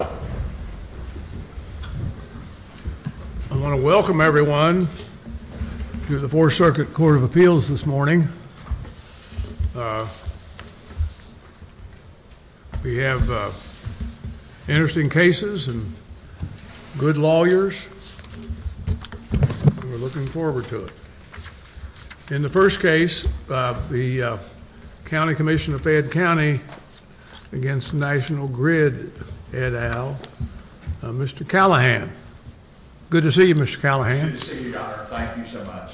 I want to welcome everyone to the 4th Circuit Court of Appeals this morning. We have interesting cases and good lawyers, and we're looking forward to it. In the first case, the County Commission of Fayette County v. National Grid et al., Mr. Callaghan. Good to see you, Mr. Callaghan. Good to see you, Your Honor. Thank you so much.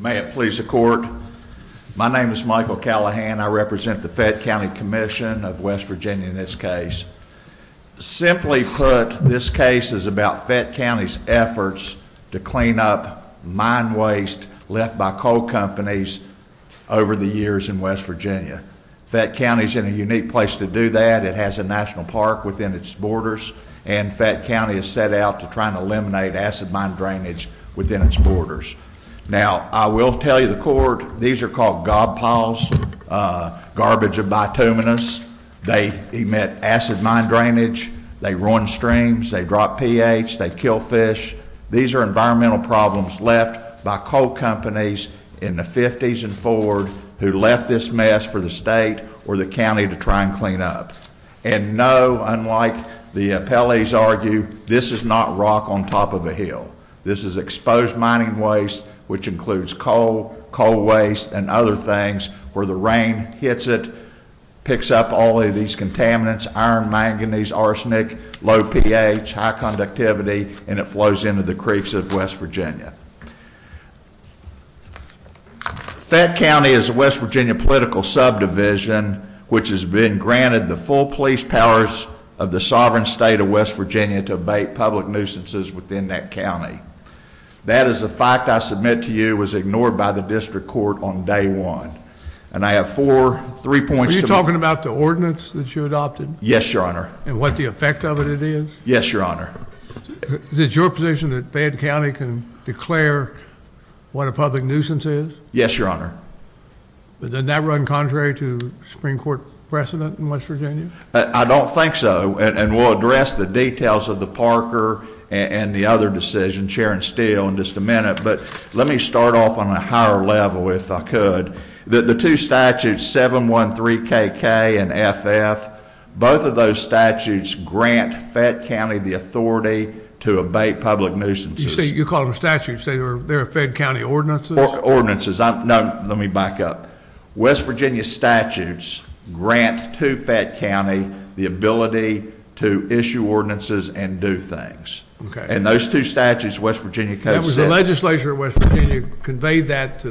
May it please the Court, my name is Michael Callaghan. I represent the Fayette County Commission of West Virginia in this case. Simply put, this case is about Fayette County's efforts to clean up mine waste left by coal companies over the years in West Virginia. Fayette County is in a unique place to do that. It has a national park within its borders, and Fayette County is set out to try to eliminate acid mine drainage within its borders. Now, I will tell you the court, these are called gob piles, garbage of bituminous. They emit acid mine drainage, they ruin streams, they drop pH, they kill fish. These are environmental problems left by coal companies in the 50s and 40s who left this mess for the state or the county to try and clean up. And no, unlike the appellees argue, this is not rock on top of a hill. This is exposed mining waste which includes coal, coal waste, and other things where the rain hits it, picks up all of these contaminants, iron, manganese, arsenic, low pH, high conductivity, and it flows into the creeks of West Virginia. Fayette County is a West Virginia political subdivision which has been granted the full police powers of the sovereign state of West Virginia to abate public nuisances within that county. That is a fact I submit to you, it was ignored by the district court on day one. Are you talking about the ordinance that you adopted? Yes, your honor. And what the effect of it is? Yes, your honor. Is it your position that Fayette County can declare what a public nuisance is? Yes, your honor. Does that run contrary to the Supreme Court precedent in West Virginia? I don't think so, and we'll address the details of the Parker and the other decision, Sharon Steele, in just a minute, but let me start off on a higher level if I could. The two statutes, 713KK and FF, both of those statutes grant Fayette County the authority to abate public nuisances. You call them statutes, they're Fayette County ordinances? Ordinances, no, let me back up. West Virginia statutes grant to Fayette County the ability to issue ordinances and do things. Okay. And those two statutes, West Virginia codes... The legislature at West Virginia conveyed that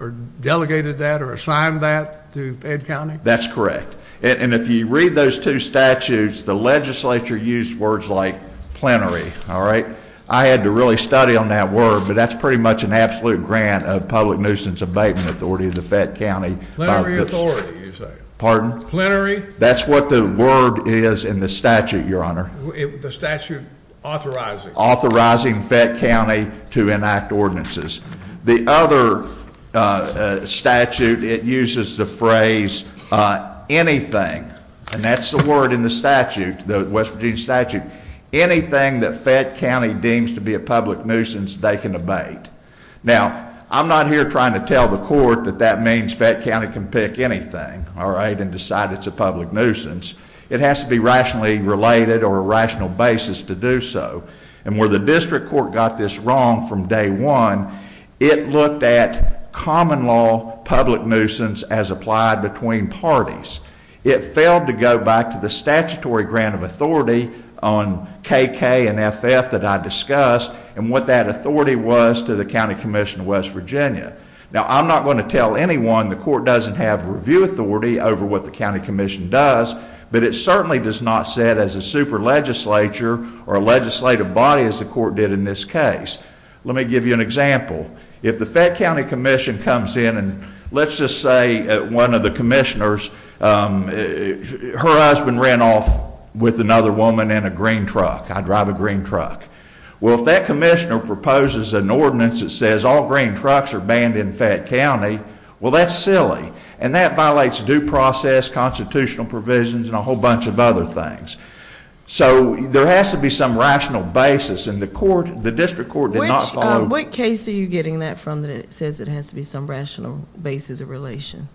or delegated that or assigned that to Fayette County? That's correct. And if you read those two statutes, the legislature used words like plenary, all right? I had to really study on that word, but that's pretty much an absolute grant of public nuisance abatement authority to Fayette County. Plenary authority, you say? Pardon? Plenary? That's what the word is in the statute, your honor. The statute authorizing. Authorizing Fayette County to enact ordinances. The other statute, it uses the phrase anything, and that's the word in the statute, the West Virginia statute. Anything that Fayette County deems to be a public nuisance, they can abate. Now, I'm not here trying to tell the court that that means Fayette County can pick anything, all right, and decide it's a public nuisance. It has to be rationally related or a rational basis to do so. And where the district court got this wrong from day one, it looked at common law public nuisance as applied between parties. It failed to go back to the statutory grant of authority on KK and FF that I discussed and what that authority was to the County Commission of West Virginia. Now, I'm not going to tell anyone the court doesn't have review authority over what the County Commission does, but it certainly does not sit as a super legislature or a legislative body as the court did in this case. Let me give you an example. If the Fayette County Commission comes in and let's just say one of the commissioners, her husband ran off with another woman in a green truck. I drive a green truck. Well, if that commissioner proposes an ordinance that says all green trucks are banned in Fayette County, well, that's silly. And that violates due process, constitutional provisions, and a whole bunch of other things. So, there has to be some rational basis, and the district court did not follow that. Which case are you getting that from that says it has to be some rational basis of relation?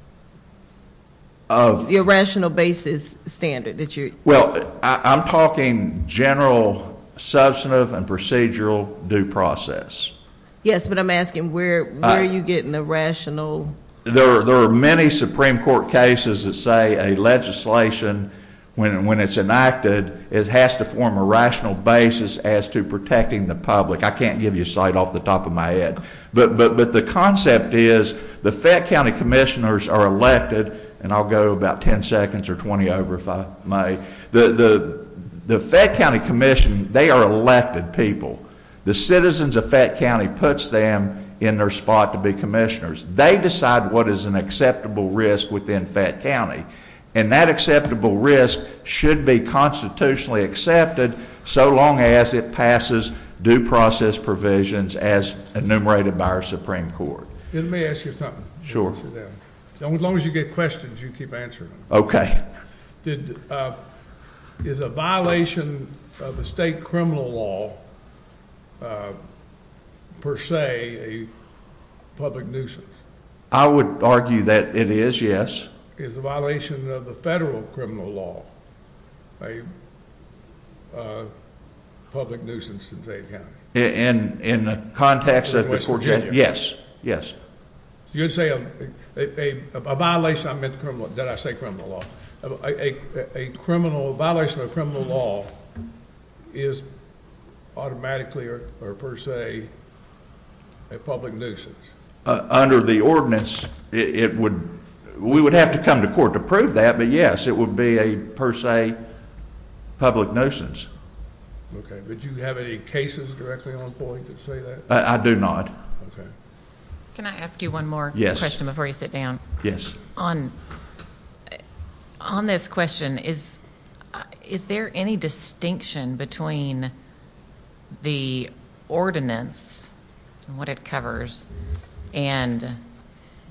The irrational basis standard that you… Well, I'm talking general, substantive, and procedural due process. Yes, but I'm asking where are you getting the rational… There are many Supreme Court cases that say a legislation, when it's enacted, it has to form a rational basis as to protecting the public. I can't give you a slide off the top of my head. But the concept is the Fayette County Commissioners are elected, and I'll go about 10 seconds or 20 over if I may. The Fayette County Commission, they are elected people. The citizens of Fayette County puts them in their spot to be commissioners. They decide what is an acceptable risk within Fayette County, and that acceptable risk should be constitutionally accepted so long as it passes due process provisions as enumerated by our Supreme Court. Let me ask you something. Sure. As long as you get questions, you keep answering them. Okay. Is a violation of the state criminal law, per se, a public nuisance? I would argue that it is, yes. Is a violation of the federal criminal law a public nuisance in Fayette County? In the context of the… Yes, yes. You're saying a violation of criminal law. Did I say criminal law? A violation of criminal law is automatically or per se a public nuisance. Under the ordinance, we would have to come to court to prove that, but yes, it would be a per se public nuisance. Okay. Did you have any cases directly on point that say that? I do not. Okay. Can I ask you one more question before you sit down? On this question, is there any distinction between the ordinance and what it covers and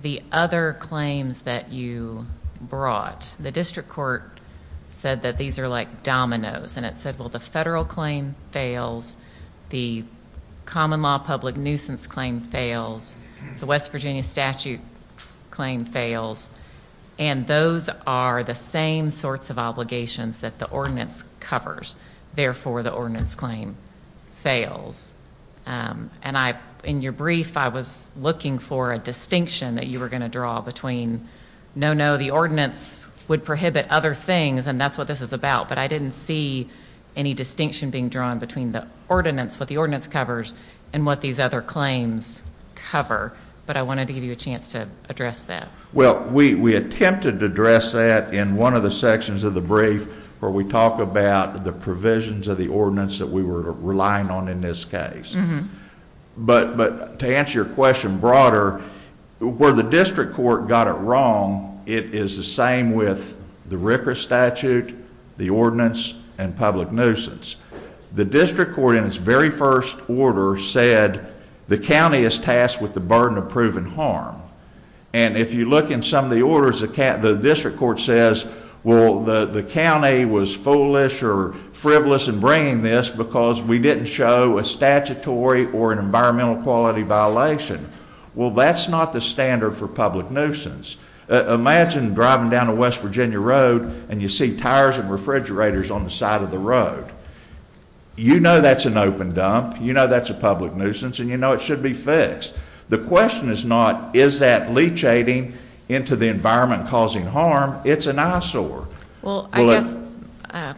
the other claims that you brought? The district court said that these are like dominoes. And it said, well, the federal claim fails. The common law public nuisance claim fails. The West Virginia statute claim fails. And those are the same sorts of obligations that the ordinance covers. Therefore, the ordinance claim fails. And in your brief, I was looking for a distinction that you were going to draw between, no, no, the ordinance would prohibit other things, and that's what this is about. But I didn't see any distinction being drawn between the ordinance, what the ordinance covers, and what these other claims cover. But I wanted to give you a chance to address that. Well, we attempted to address that in one of the sections of the brief where we talk about the provisions of the ordinance that we were relying on in this case. But to answer your question broader, where the district court got it wrong, it is the same with the Ricker statute, the ordinance, and public nuisance. The district court, in its very first order, said the county is tasked with the burden of proven harm. And if you look in some of the orders, the district court says, well, the county was foolish or frivolous in bringing this because we didn't show a statutory or an environmental quality violation. Well, that's not the standard for public nuisance. Imagine driving down a West Virginia road and you see tires and refrigerators on the side of the road. You know that's an open dump, you know that's a public nuisance, and you know it should be fixed. The question is not, is that leachating into the environment causing harm? It's an eyesore. An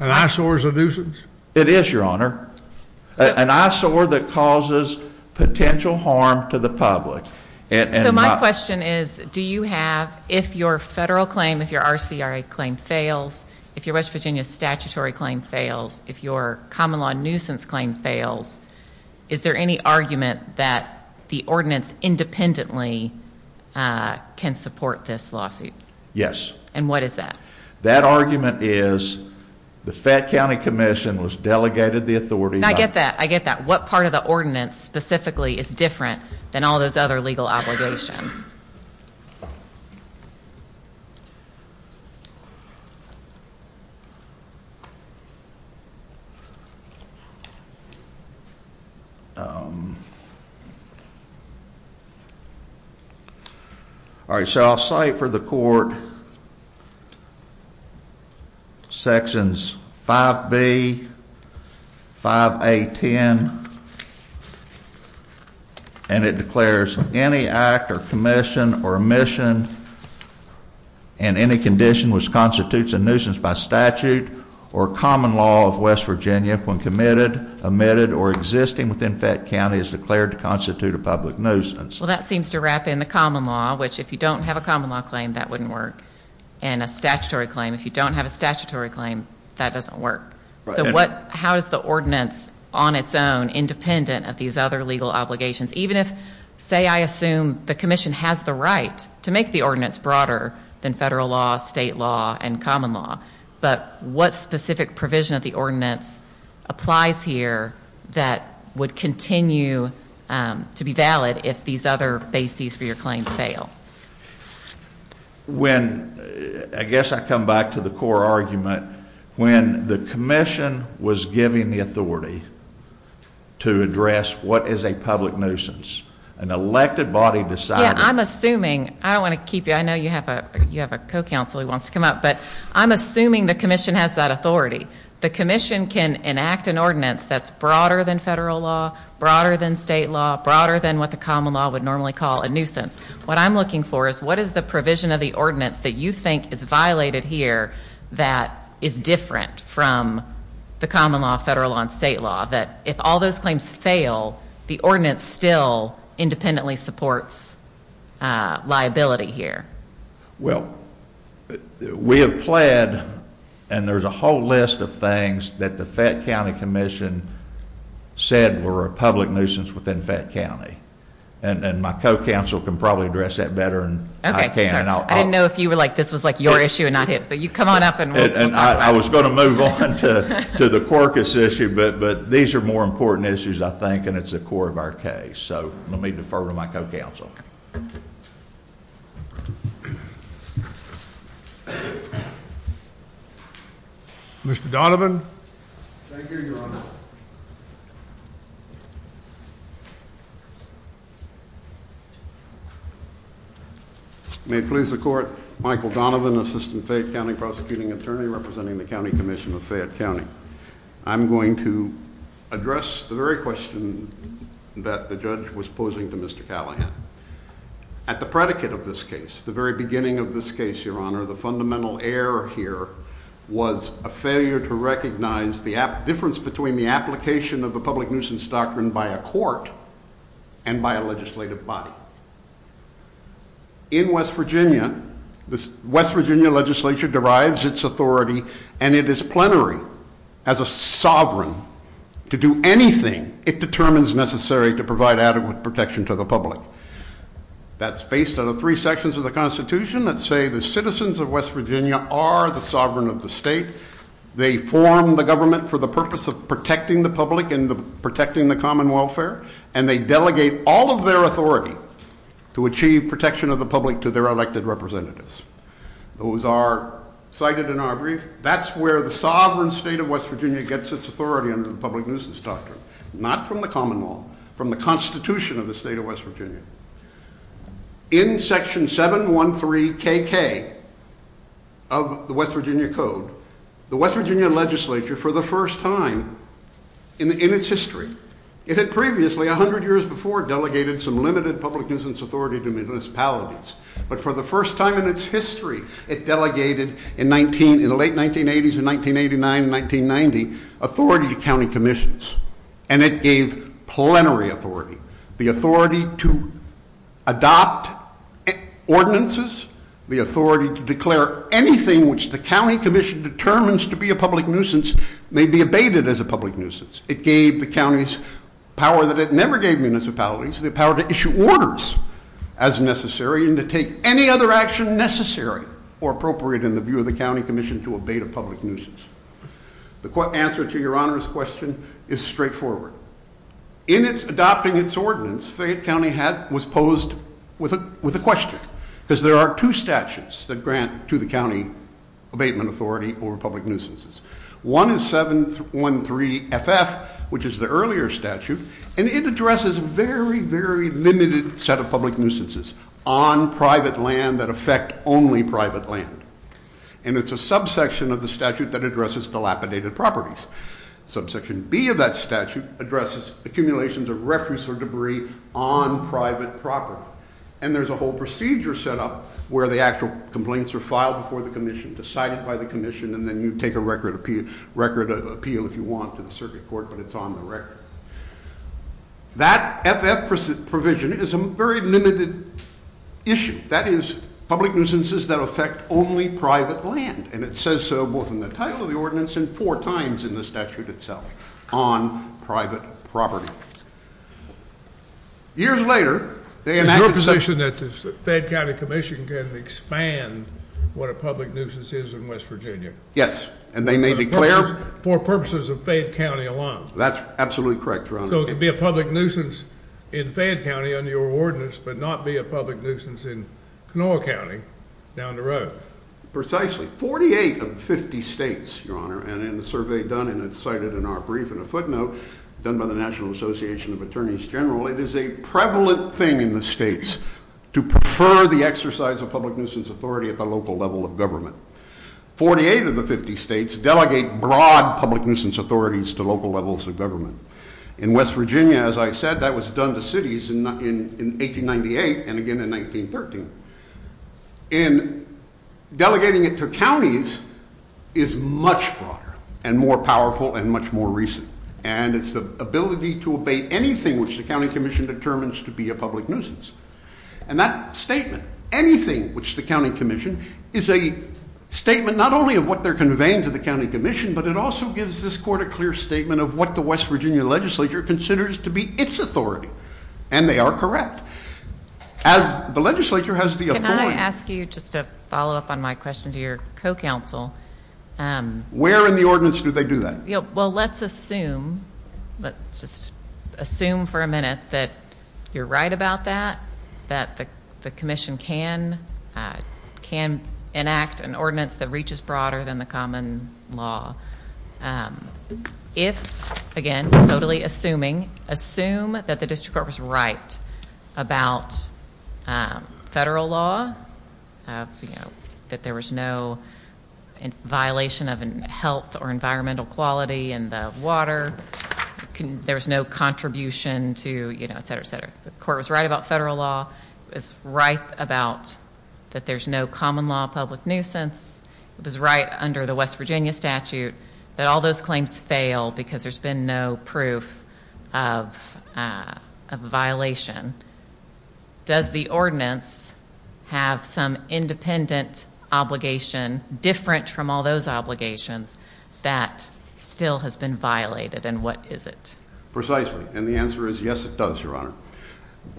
eyesore is a nuisance? It is, Your Honor. An eyesore that causes potential harm to the public. So my question is, do you have, if your federal claim, if your RCRA claim fails, if your West Virginia statutory claim fails, if your common law nuisance claim fails, is there any argument that the ordinance independently can support this lawsuit? Yes. And what is that? That argument is the Fett County Commission was delegated the authority. I get that, I get that. What part of the ordinance specifically is different than all those other legal obligations? All right, so I'll cite for the court sections 5B, 5A.10, and it declares any act or commission or omission in any condition which constitutes a nuisance by statute or common law of West Virginia if one committed, omitted, or existing within Fett County is declared to constitute a public nuisance. Well, that seems to wrap in the common law, which if you don't have a common law claim, that wouldn't work. And a statutory claim, if you don't have a statutory claim, that doesn't work. So what, how is the ordinance on its own independent of these other legal obligations? Even if, say I assume the commission has the right to make the ordinance broader than federal law, state law, and common law. But what specific provision of the ordinance applies here that would continue to be valid if these other bases for your claim fail? When, I guess I come back to the core argument, when the commission was given the authority to address what is a public nuisance, an elected body decided. I'm assuming, I don't want to keep you, I know you have a co-counsel who wants to come up, but I'm assuming the commission has that authority. The commission can enact an ordinance that's broader than federal law, broader than state law, broader than what the common law would normally call a nuisance. What I'm looking for is what is the provision of the ordinance that you think is violated here that is different from the common law, federal law, and state law. That if all those claims fail, the ordinance still independently supports liability here. Well, we have pled, and there's a whole list of things that the Fett County Commission said were a public nuisance within Fett County. And my co-counsel can probably address that better than I can. I didn't know if you were like, this was like your issue and not his. I was going to move on to the corpus issue, but these are more important issues, I think, and it's the core of our case. So, I'm going to leave it to my co-counsel. Mr. Donovan? Thank you, Your Honor. May it please the Court. Michael Donovan, Assistant Fett County Prosecuting Attorney, representing the County Commission of Fett County. I'm going to address the very question that the judge was posing to Mr. Callahan. At the predicate of this case, the very beginning of this case, Your Honor, the fundamental error here was a failure to recognize the difference between the actions of the judge and the defendant. The application of the public nuisance doctrine by a court and by a legislative body. In West Virginia, the West Virginia legislature derives its authority and it is plenary as a sovereign to do anything it determines necessary to provide adequate protection to the public. That's based on the three sections of the Constitution that say the citizens of West Virginia are the sovereign of the state. They form the government for the purpose of protecting the public and protecting the common welfare. And they delegate all of their authority to achieve protection of the public to their elected representatives. Those are cited in our brief. That's where the sovereign state of West Virginia gets its authority under the public nuisance doctrine. Not from the common law. From the Constitution of the state of West Virginia. In section 713 K.K. of the West Virginia Code, the West Virginia legislature for the first time in its history, it had previously, 100 years before, delegated some limited public nuisance authority to municipalities. But for the first time in its history, it delegated in the late 1980s and 1989, 1990, authority to county commissions. And it gave plenary authority. The authority to adopt ordinances. The authority to declare anything which the county commission determines to be a public nuisance may be abated as a public nuisance. It gave the counties power that it never gave municipalities. The power to issue orders as necessary and to take any other action necessary or appropriate in the view of the county commission to abate a public nuisance. The answer to your honor's question is straightforward. In adopting its ordinance, Fayette County was posed with a question. Because there are two statutes that grant to the county abatement authority over public nuisances. One is 713 F.F., which is the earlier statute. And it addresses a very, very limited set of public nuisances on private land that affect only private land. And it's a subsection of the statute that addresses dilapidated properties. Subsection B of that statute addresses accumulations of records of debris on private property. And there's a whole procedure set up where the actual complaints are filed before the commission, decided by the commission, and then you take a record appeal if you want to the circuit court, but it's on the record. That F.F. provision is a very limited issue. That is public nuisances that affect only private land. And it says so both in the title of the ordinance and four times in the statute itself on private property. Years later, they imagine... Your position is that the Fayette County Commission can expand what a public nuisance is in West Virginia. Yes. And they may declare... For purposes of Fayette County alone. That's absolutely correct, your honor. So it can be a public nuisance in Fayette County under your ordinance, but not be a public nuisance in Knoll County down the road. Precisely. 48 of 50 states, your honor, and the survey done and it's cited in our brief and a footnote done by the National Association of Attorneys General, it is a prevalent thing in the states to prefer the exercise of public nuisance authority at the local level of government. 48 of the 50 states delegate broad public nuisance authorities to local levels of government. In West Virginia, as I said, that was done to cities in 1898 and again in 1913. And delegating it to counties is much broader and more powerful and much more recent. And it's the ability to obey anything which the county commission determines to be a public nuisance. And that statement, anything which the county commission, is a statement not only of what they're conveying to the county commission, but it also gives this court a clear statement of what the West Virginia legislature considers to be its authority. And they are correct. As the legislature has the authority. Can I ask you just to follow up on my question to your co-counsel? Where in the ordinance do they do that? Well, let's assume, let's just assume for a minute that you're right about that, that the commission can enact an ordinance that reaches broader than the common law. If, again, totally assuming, assume that the district court was right about federal law, that there was no violation of health or environmental quality in the water, there's no contribution to, you know, et cetera, et cetera. The court was right about federal law. It's right about that there's no common law public nuisance. It was right under the West Virginia statute that all those claims fail because there's been no proof of a violation. Does the ordinance have some independent obligation different from all those obligations that still has been violated, and what is it? Precisely. And the answer is yes, it does, Your Honor.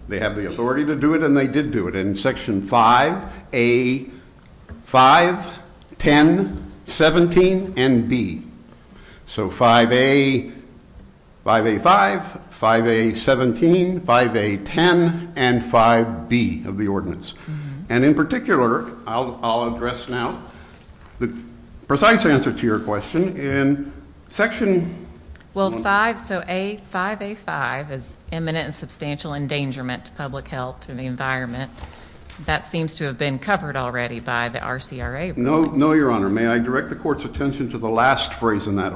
They have the authority to do it, and they did do it. And section 5A, 5, 10, 17, and B. So 5A, 5A-5, 5A-17, 5A-10, and 5B of the ordinance. And in particular, I'll address now the precise answer to your question. Well, 5A-5 is imminent and substantial endangerment to public health and the environment. That seems to have been covered already by the RCRA. No, Your Honor. May I direct the court's attention to the last phrase in that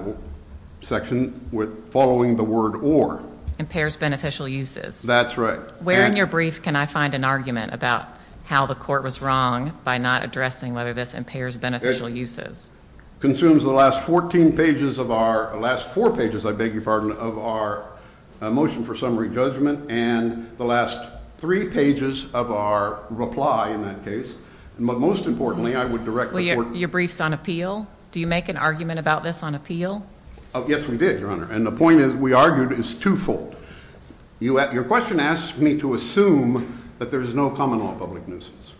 section following the word or. Impairs beneficial uses. That's right. Where in your brief can I find an argument about how the court was wrong by not addressing whether this impairs beneficial uses? Consumes the last four pages of our motion for summary judgment and the last three pages of our reply in that case. But most importantly, I would direct the court. You briefed on appeal? Do you make an argument about this on appeal? Yes, we did, Your Honor. And the point is we argued it's twofold. Your question asks me to assume that there is no common law public nuisance.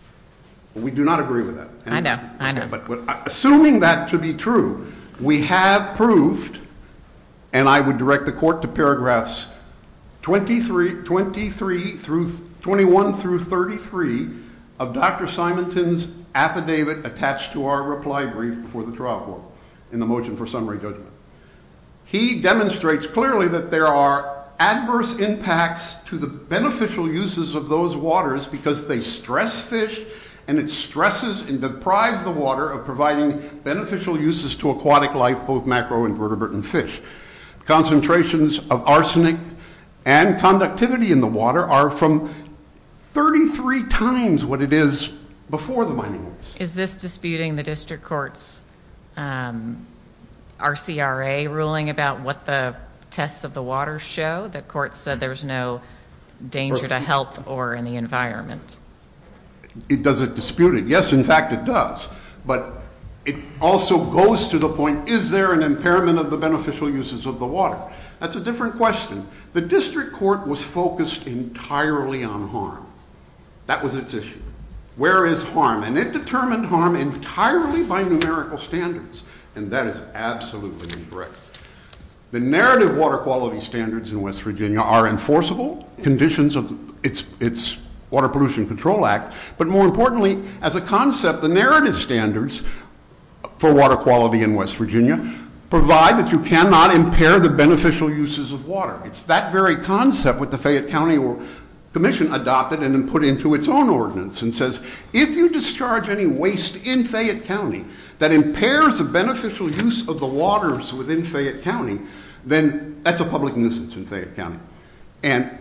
We do not agree with that. I know, I know. Assuming that to be true, we have proved, and I would direct the court to paragraphs 23 through, 21 through 33 of Dr. Simonton's affidavit attached to our reply brief for the trial court in the motion for summary judgment. He demonstrates clearly that there are adverse impacts to the beneficial uses of those waters because they stress fish and it stresses and deprives the water of providing beneficial uses to aquatic life, both macro and vertebrate and fish. Concentrations of arsenic and conductivity in the water are from 33 turns what it is before the mining. Is this disputing the district court's RCRA ruling about what the tests of the water show? The court said there's no danger to health or any environment. Does it dispute it? Yes, in fact, it does. But it also goes to the point, is there an impairment of the beneficial uses of the water? That's a different question. The district court was focused entirely on harm. That was its issue. Where is harm? And it determined harm entirely by numerical standards, and that is absolutely incorrect. The narrative water quality standards in West Virginia are enforceable conditions of its Water Pollution Control Act, but more importantly, as a concept, the narrative standards for water quality in West Virginia provide that you cannot impair the beneficial uses of water. It's that very concept that the Fayette County Commission adopted and then put into its own ordinance and says, if you discharge any waste in Fayette County that impairs the beneficial use of the waters within Fayette County, then that's a public instance in Fayette County. And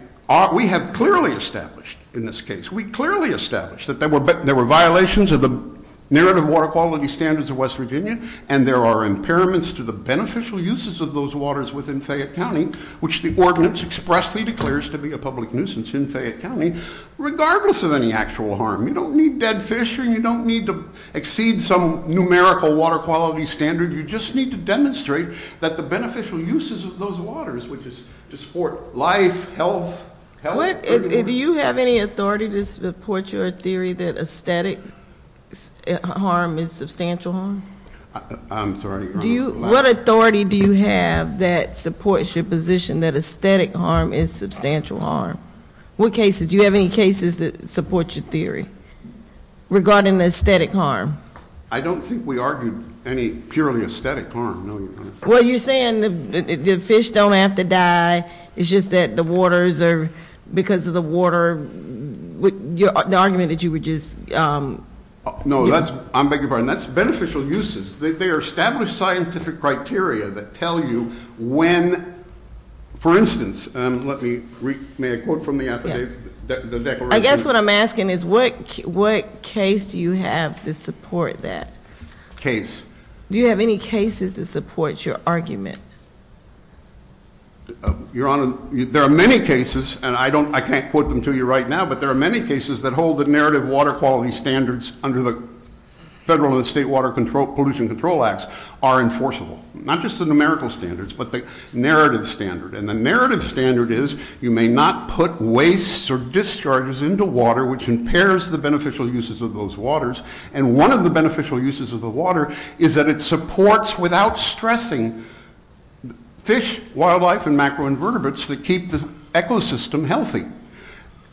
we have clearly established in this case, we clearly established that there were violations of the narrative water quality standards of West Virginia, and there are impairments to the beneficial uses of those waters within Fayette County, which the ordinance expressly declares to be a public nuisance in Fayette County, regardless of any actual harm. You don't need dead fish or you don't need to exceed some numerical water quality standard. You just need to demonstrate that the beneficial uses of those waters, which is to support life, health, health. Do you have any authority to support your theory that aesthetic harm is substantial harm? I'm sorry? What authority do you have that supports your position that aesthetic harm is substantial harm? Do you have any cases that support your theory regarding the aesthetic harm? I don't think we argue any purely aesthetic harm. Well, you're saying the fish don't have to die. It's just that the waters are, because of the water, the argument that you would just... No, that's, I beg your pardon, that's beneficial uses. They are established scientific criteria that tell you when, for instance, let me, may I quote from the affidavit, the declaration... I guess what I'm asking is what case do you have to support that? Case. Do you have any cases that support your argument? Your Honor, there are many cases, and I can't quote them to you right now, but there are many cases that hold that narrative water quality standards under the Federal and State Water Pollution Control Acts are enforceable. Not just the numerical standards, but the narrative standard. And the narrative standard is you may not put wastes or discharges into water which impairs the beneficial uses of those waters. And one of the beneficial uses of the water is that it supports, without stressing, fish, wildlife, and macroinvertebrates to keep the ecosystem healthy.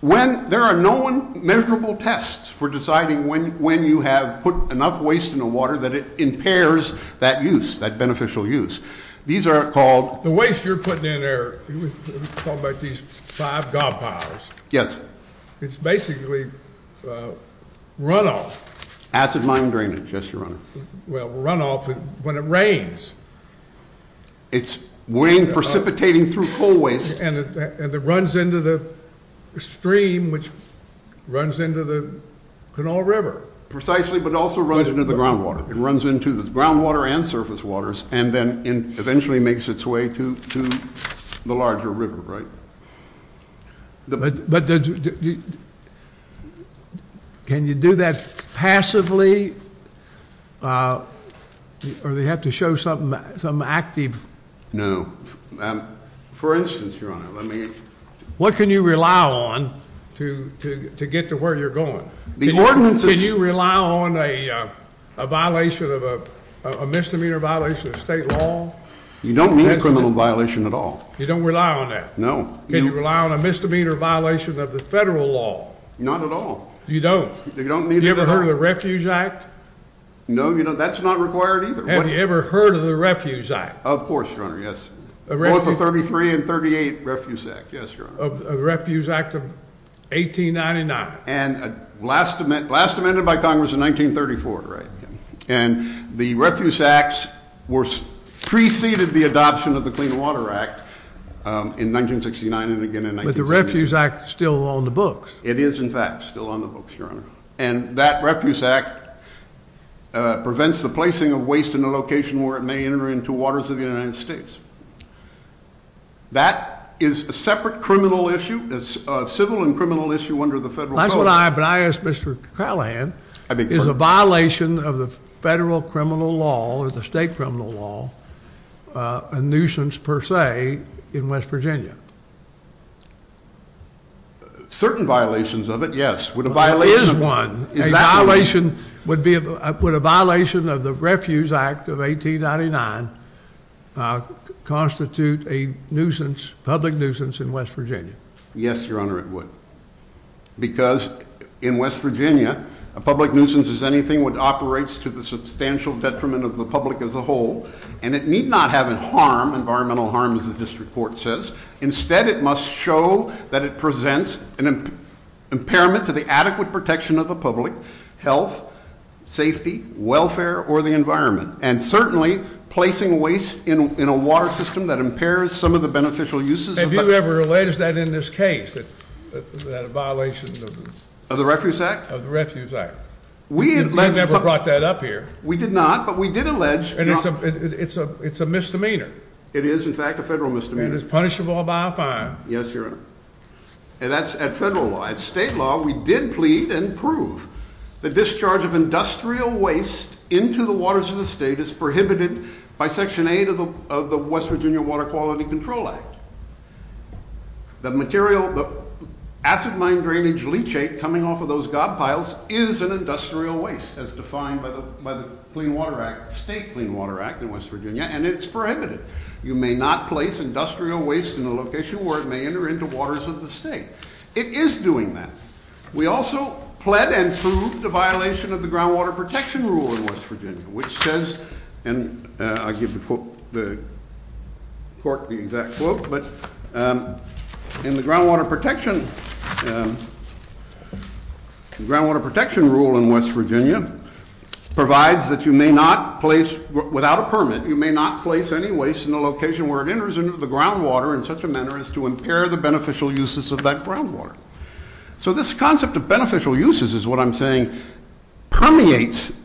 When, there are no memorable tests for deciding when you have put enough waste in the water that it impairs that use, that beneficial use. These are called... The waste you're putting in there, let's talk about these five god powers. Yes. It's basically runoff. Acid mine drainage, yes, Your Honor. Well, runoff when it rains. It's rain precipitating through coal waste. And it runs into the stream, which runs into the Connaught River. Precisely, but it also runs into the groundwater. It runs into the groundwater and surface waters, and then it eventually makes its way to the larger river, right? But can you do that passively, or do you have to show something active? No. For instance, Your Honor, let me... What can you rely on to get to where you're going? The ordinance is... Can you rely on a violation of, a misdemeanor violation of state law? You don't need a criminal violation at all. You don't rely on that? No. Can you rely on a misdemeanor violation of the federal law? Not at all. You don't? You don't need... Have you ever heard of the Refuge Act? No, that's not required either. Have you ever heard of the Refuge Act? Of course, Your Honor, yes. Both the 33 and 38 Refuge Act, yes, Your Honor. The Refuge Act of 1899. And last amended by Congress in 1934, right? And the Refuge Act preceded the adoption of the Clean Water Act in 1969 and again in 1980. But the Refuge Act is still on the books. It is, in fact, still on the books, Your Honor. And that Refuge Act prevents the placing of waste in a location where it may enter into the waters of the United States. That is a separate criminal issue. It's a civil and criminal issue under the federal code. That's what I asked Mr. Callahan. Is a violation of the federal criminal law or the state criminal law a nuisance per se in West Virginia? Certain violations of it, yes. There is one. Would a violation of the Refuge Act of 1899 constitute a public nuisance in West Virginia? Yes, Your Honor, it would. Because in West Virginia, a public nuisance is anything which operates to the substantial detriment of the public as a whole. And it need not have an environmental harm, as this report says. Instead, it must show that it presents an impairment to the adequate protection of the public, health, safety, welfare, or the environment. And certainly, placing waste in a water system that impairs some of the beneficial uses. Have you ever alleged that in this case? That a violation of the Refuge Act? Of the Refuge Act. We have never brought that up here. We did not, but we did allege. It's a misdemeanor. It is, in fact, a federal misdemeanor. And it's punishable by a fine. Yes, Your Honor. And that's at federal law. At state law, we did plead and prove that discharge of industrial waste into the waters of the state is prohibited by Section 8 of the West Virginia Water Quality Control Act. The material, the acid mine drainage leachate coming off of those god piles is an industrial waste, as defined by the State Clean Water Act in West Virginia, and it's prohibited. You may not place industrial waste in a location where it may enter into waters of the state. It is doing that. We also plead and prove the violation of the Groundwater Protection Rule in West Virginia, which says, and I give the court the exact quote, but in the Groundwater Protection Rule in West Virginia, provides that you may not place, without a permit, you may not place any waste in the location where it enters into the groundwater in such a manner as to impair the beneficial uses of that groundwater. So this concept of beneficial uses is what I'm saying permeates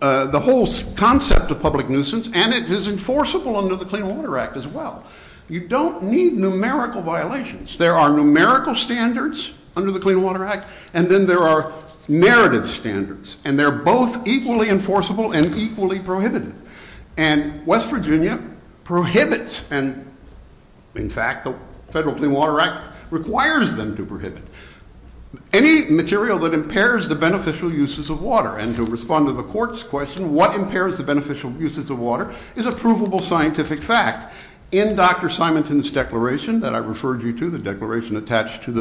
the whole concept of public nuisance, and it is enforceable under the Clean Water Act as well. You don't need numerical violations. There are numerical standards under the Clean Water Act, and then there are narrative standards, and they're both equally enforceable and equally prohibitive. And West Virginia prohibits, and in fact, the federal Clean Water Act requires them to prohibit, any material that impairs the beneficial uses of water. And to respond to the court's question, what impairs the beneficial uses of water is a provable scientific fact. In Dr. Simonton's declaration that I referred you to, the declaration attached to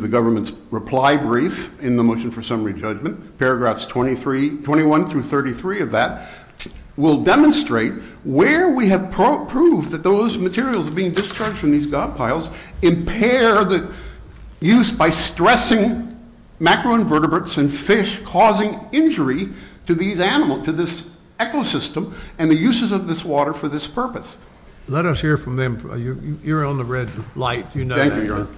the government's reply brief in the Motion for Summary Judgment, paragraphs 21 through 33 of that, will demonstrate where we have proved that those materials being discharged from these dog piles impair the use by stressing macroinvertebrates and fish causing injury to these animals, to this ecosystem, and the uses of this water for this purpose. Let us hear from them. You're on the red light. Thank you, Your Honor.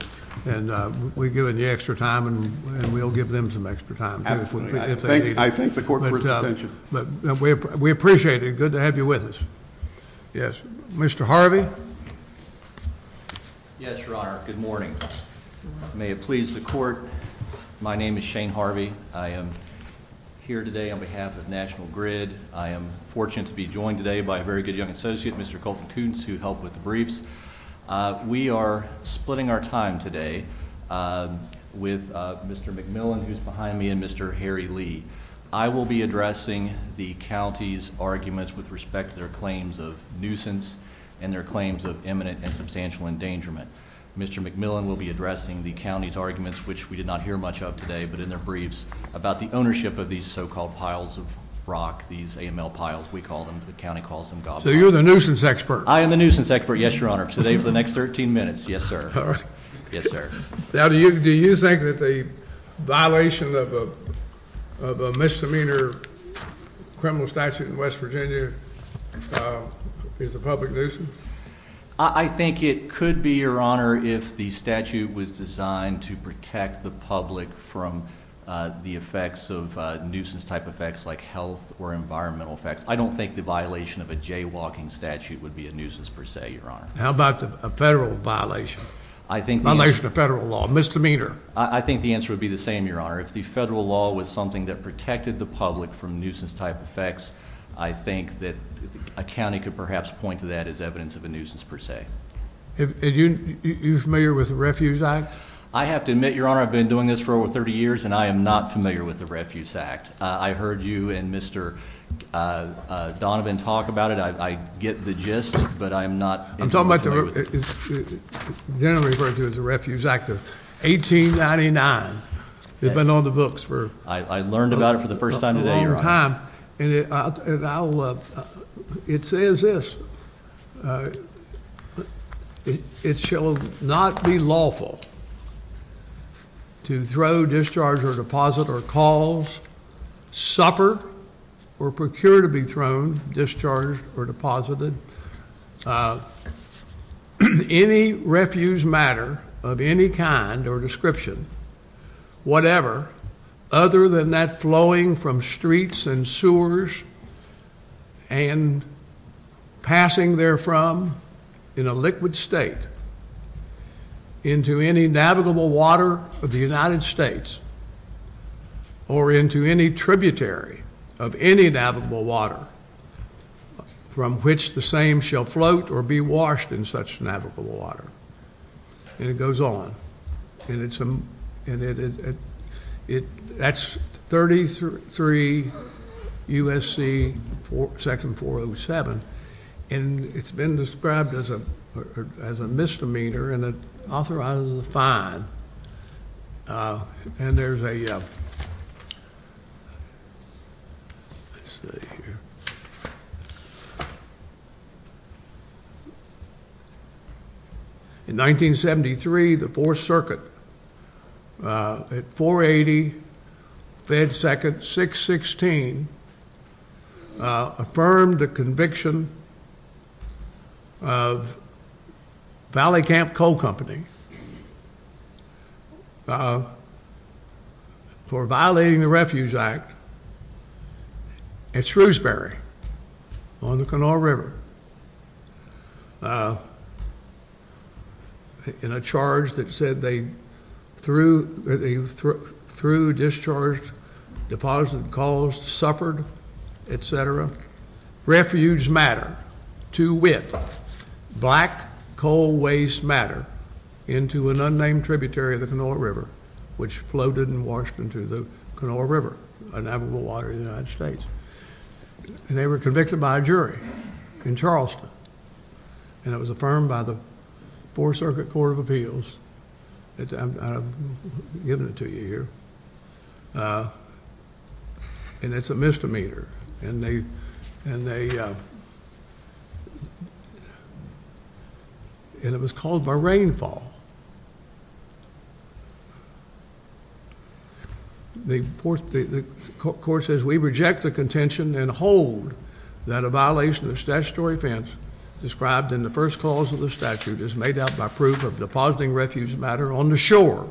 And we've given you extra time, and we'll give them some extra time. Thank you. I thank the court for its attention. We appreciate it. Good to have you with us. Yes. Mr. Harvey? Yes, Your Honor. Good morning. May it please the court, my name is Shane Harvey. I am here today on behalf of National Grid. I am fortunate to be joined today by a very good young associate, Mr. Colton Toots, who helped with the briefs. We are splitting our time today with Mr. McMillan, who's behind me, and Mr. Harry Lee. I will be addressing the county's arguments with respect to their claims of nuisance and their claims of imminent and substantial endangerment. Mr. McMillan will be addressing the county's arguments, which we did not hear much of today, but in their briefs, about the ownership of these so-called piles of rock, these AML piles, we call them. The county calls them gobblers. So you're the nuisance expert? I am the nuisance expert, yes, Your Honor, today for the next 13 minutes. Yes, sir. All right. Yes, sir. Now, do you think that the violation of a misdemeanor criminal statute in West Virginia is a public nuisance? I think it could be, Your Honor, if the statute was designed to protect the public from the effects of nuisance-type effects like health or environmental effects. I don't think the violation of a jaywalking statute would be a nuisance per se, Your Honor. How about a federal violation? A violation of federal law, misdemeanor. I think the answer would be the same, Your Honor. If the federal law was something that protected the public from nuisance-type effects, I think that a county could perhaps point to that as evidence of a nuisance per se. Are you familiar with the Refuse Act? I have to admit, Your Honor, I've been doing this for over 30 years, and I am not familiar with the Refuse Act. I heard you and Mr. Donovan talk about it. I get the gist, but I'm not familiar with it. It's generally referred to as the Refuse Act of 1899. We've been on the books for a long time. I learned about it for the first time today, Your Honor. It says this. It shall not be lawful to throw, discharge, or deposit, or cause, suffer, or procure to be thrown, discharged, or deposited any refuse matter of any kind or description, whatever, other than that flowing from streets and sewers and passing therefrom in a liquid state into any navigable water of the United States or into any tributary of any navigable water from which the same shall float or be washed in such navigable water. And it goes on. That's 33 U.S.C. section 407, and it's been described as a misdemeanor, and it authorizes a fine. And there's a... Let's see here. In 1973, the Fourth Circuit, at 480 Fed Second 616, affirmed the conviction of Valley Camp Coal Company for violating the Refuse Act at Shrewsbury. On the Kanawha River, in a charge that said they threw, discharged, deposited, caused, suffered, etc., refuse matter to whip black coal waste matter into an unnamed tributary of the Kanawha River, which floated and washed into the Kanawha River, a navigable water in the United States. And they were convicted by a jury in Charleston, and it was affirmed by the Fourth Circuit Court of Appeals. I've given it to you here. And it's a misdemeanor, and they... And it was called by rainfall. The Court says, we reject the contention and hold that a violation of statutory offense described in the first clause of the statute is made up by proof of depositing refuse matter on the shore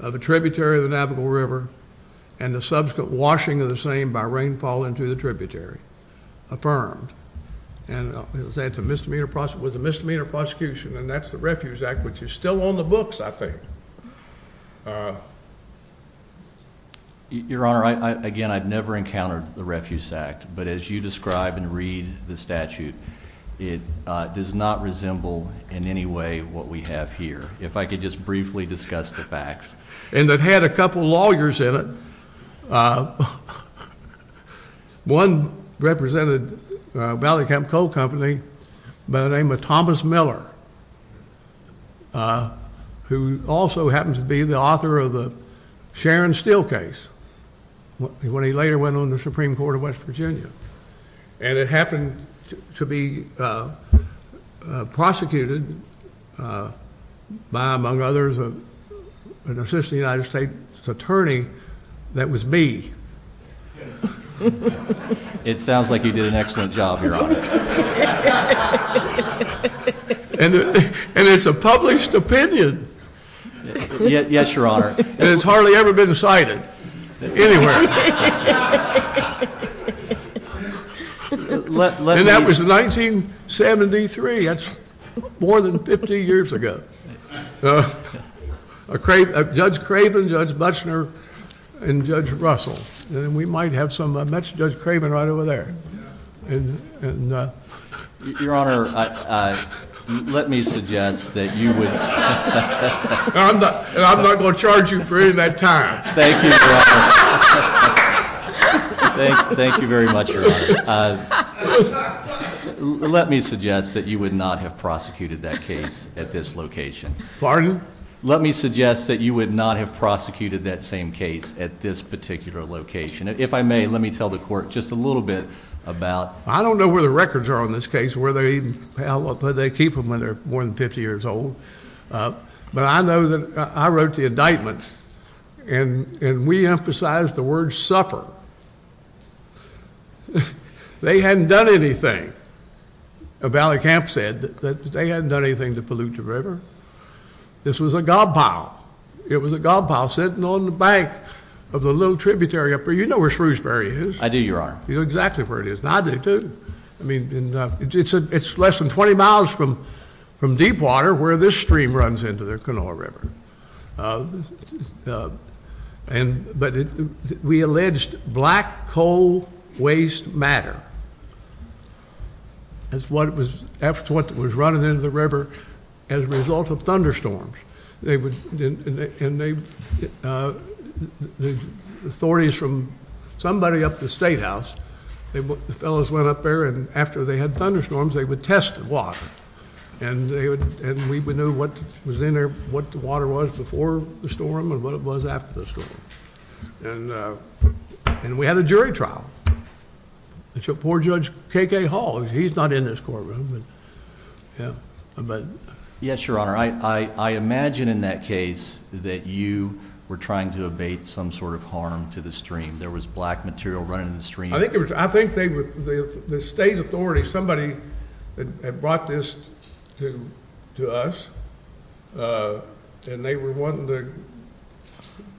of a tributary of the Kanawha River and the subsequent washing of the same by rainfall into the tributary. Affirmed. And it was a misdemeanor prosecution, and that's the Refuse Act, which is still on the books, I think. Your Honor, again, I've never encountered the Refuse Act, but as you describe and read the statute, it does not resemble in any way what we have here. If I could just briefly discuss the facts. And it had a couple lawyers in it. One represented Valley Camp Coal Company by the name of Thomas Miller, who also happened to be the author of the Sharon Steel case when he later went on the Supreme Court of West Virginia. And it happened to be prosecuted by, among others, an assistant United States attorney that was me. It sounds like you did an excellent job, Your Honor. And it's a published opinion. Yes, Your Honor. And it's hardly ever been cited anywhere. And that was in 1973. That's more than 50 years ago. Judge Craven, Judge Buchner, and Judge Russell. And we might have some, I mentioned Judge Craven right over there. Your Honor, let me suggest that you would... I'm not going to charge you for any of that time. Thank you, Your Honor. Thank you very much, Your Honor. Let me suggest that you would not have prosecuted that case at this location. Pardon? Let me suggest that you would not have prosecuted that same case at this particular location. If I may, let me tell the court just a little bit about... I don't know where the records are on this case, where they even, how long they keep them when they're more than 50 years old. But I know that I wrote the indictment, and we emphasized the word suffer. They hadn't done anything. Valley Camp said that they hadn't done anything to pollute the river. This was a gob pile. It was a gob pile sitting on the back of the little tributary up there. You know where Shrewsbury is. I do, Your Honor. You know exactly where it is. And I do, too. It's less than 20 miles from Deepwater where this stream runs into the Kanawha River. But we alleged black coal waste matter. That's what was running into the river as a result of thunderstorms. And the authorities from somebody up at the statehouse, the fellows went up there, and after they had thunderstorms, they would test the water. And we didn't know what was in there, what the water was before the storm and what it was after the storm. And we had a jury trial. It's a poor Judge K.K. Hall. He's not in this courtroom. Yes, Your Honor, I imagine in that case that you were trying to abate some sort of harm to the stream. There was black material running in the stream. I think the state authorities, somebody had brought this to us, and they were wanting to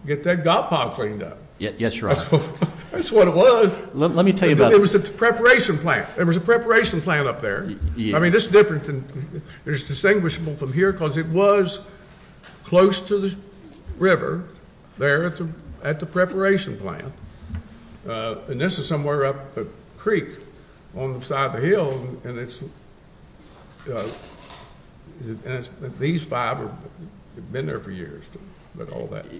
get that gob pile cleaned up. Yes, Your Honor. That's what it was. Let me tell you about it. It was a preparation plant. There was a preparation plant up there. I mean, this is different. It's distinguishable from here because it was close to the river there at the preparation plant. And this is somewhere up the creek on the side of the hill. These five have been there for years.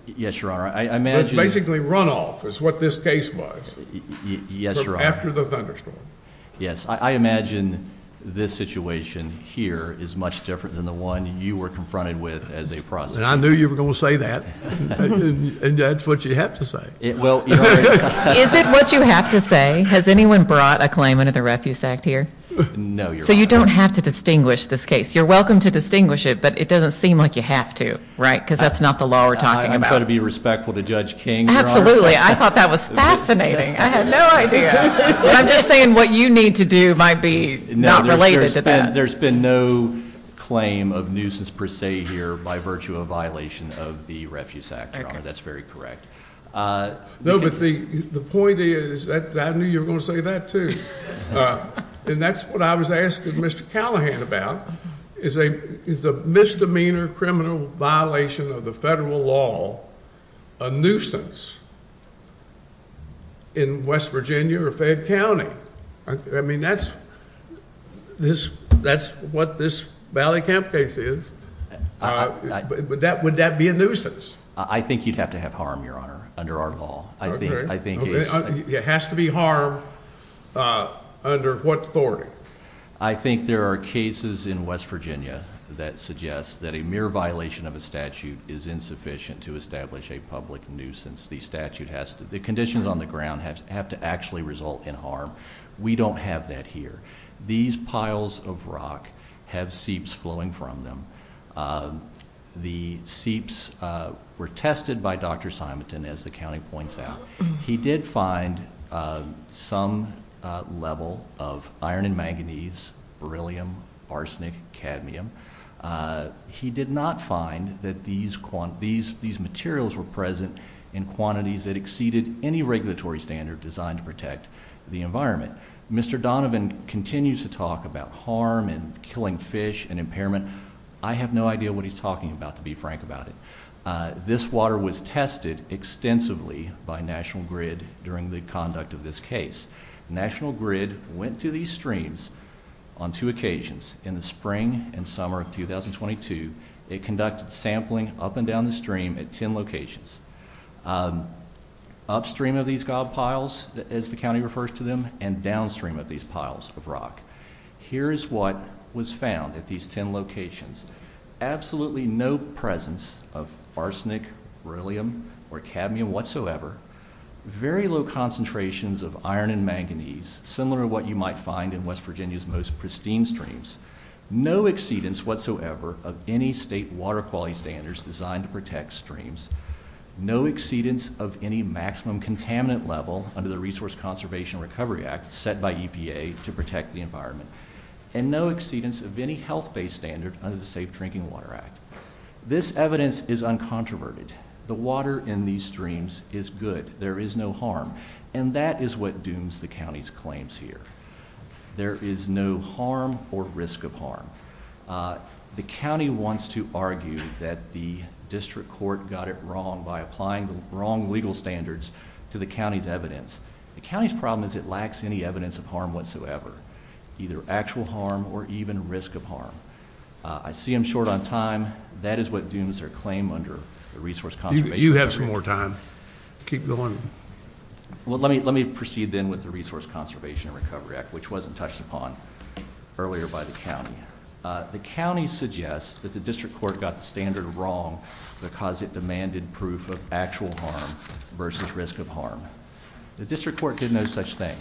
Yes, Your Honor. Basically runoff is what this case was. Yes, Your Honor. After the thunderstorm. Yes, I imagine this situation here is much different than the one you were confronted with as a prosecutor. And I knew you were going to say that. And that's what you have to say. Is it what you have to say? Has anyone brought a claim under the Refuse Act here? No, Your Honor. So you don't have to distinguish this case. You're welcome to distinguish it, but it doesn't seem like you have to. Right. Because that's not the law we're talking about. I'm trying to be respectful to Judge King, Your Honor. Absolutely. I thought that was fascinating. I had no idea. I'm just saying what you need to do might be not related to that. There's been no claim of nuisance per se here by virtue of violation of the Refuse Act, Your Honor. That's very correct. No, but the point is, I knew you were going to say that too. And that's what I was asking Mr. Callahan about. Is a misdemeanor criminal violation of the federal law a nuisance in West Virginia or Fayette County? I mean, that's what this Valley Camp case is. Would that be a nuisance? I think you'd have to have harm, Your Honor, under our law. It has to be harm under what authority? I think there are cases in West Virginia that suggest that a mere violation of a statute is insufficient to establish a public nuisance. The conditions on the ground have to actually result in harm. We don't have that here. These piles of rock have seeps flowing from them. The seeps were tested by Dr. Simonton, as the county points out. He did find some level of iron and manganese, beryllium, arsenic, cadmium. He did not find that these materials were present in quantities that exceeded any regulatory standard designed to protect the environment. Mr. Donovan continues to talk about harm and killing fish and impairment. I have no idea what he's talking about, to be frank about it. This water was tested extensively by National Grid during the conduct of this case. National Grid went to these streams on two occasions. In the spring and summer of 2022, it conducted sampling up and down the stream at ten locations. Upstream of these god piles, as the county refers to them, and downstream of these piles of rock. Here is what was found at these ten locations. Absolutely no presence of arsenic, beryllium, or cadmium whatsoever. Very low concentrations of iron and manganese, similar to what you might find in West Virginia's most pristine streams. No exceedance whatsoever of any state water quality standards designed to protect streams. No exceedance of any maximum contaminant level under the Resource Conservation Recovery Act set by EPA to protect the environment. And no exceedance of any health-based standard under the Safe Drinking Water Act. This evidence is uncontroverted. The water in these streams is good. There is no harm. And that is what dooms the county's claims here. There is no harm or risk of harm. The county wants to argue that the district court got it wrong by applying the wrong legal standards to the county's evidence. The county's problem is it lacks any evidence of harm whatsoever. Either actual harm or even risk of harm. I see I'm short on time. That is what dooms their claim under the Resource Conservation Recovery Act. You have some more time. Keep going. Well, let me proceed then with the Resource Conservation Recovery Act, which wasn't touched upon earlier by the county. The county suggests that the district court got the standard wrong because it demanded proof of actual harm versus risk of harm. The district court did no such thing.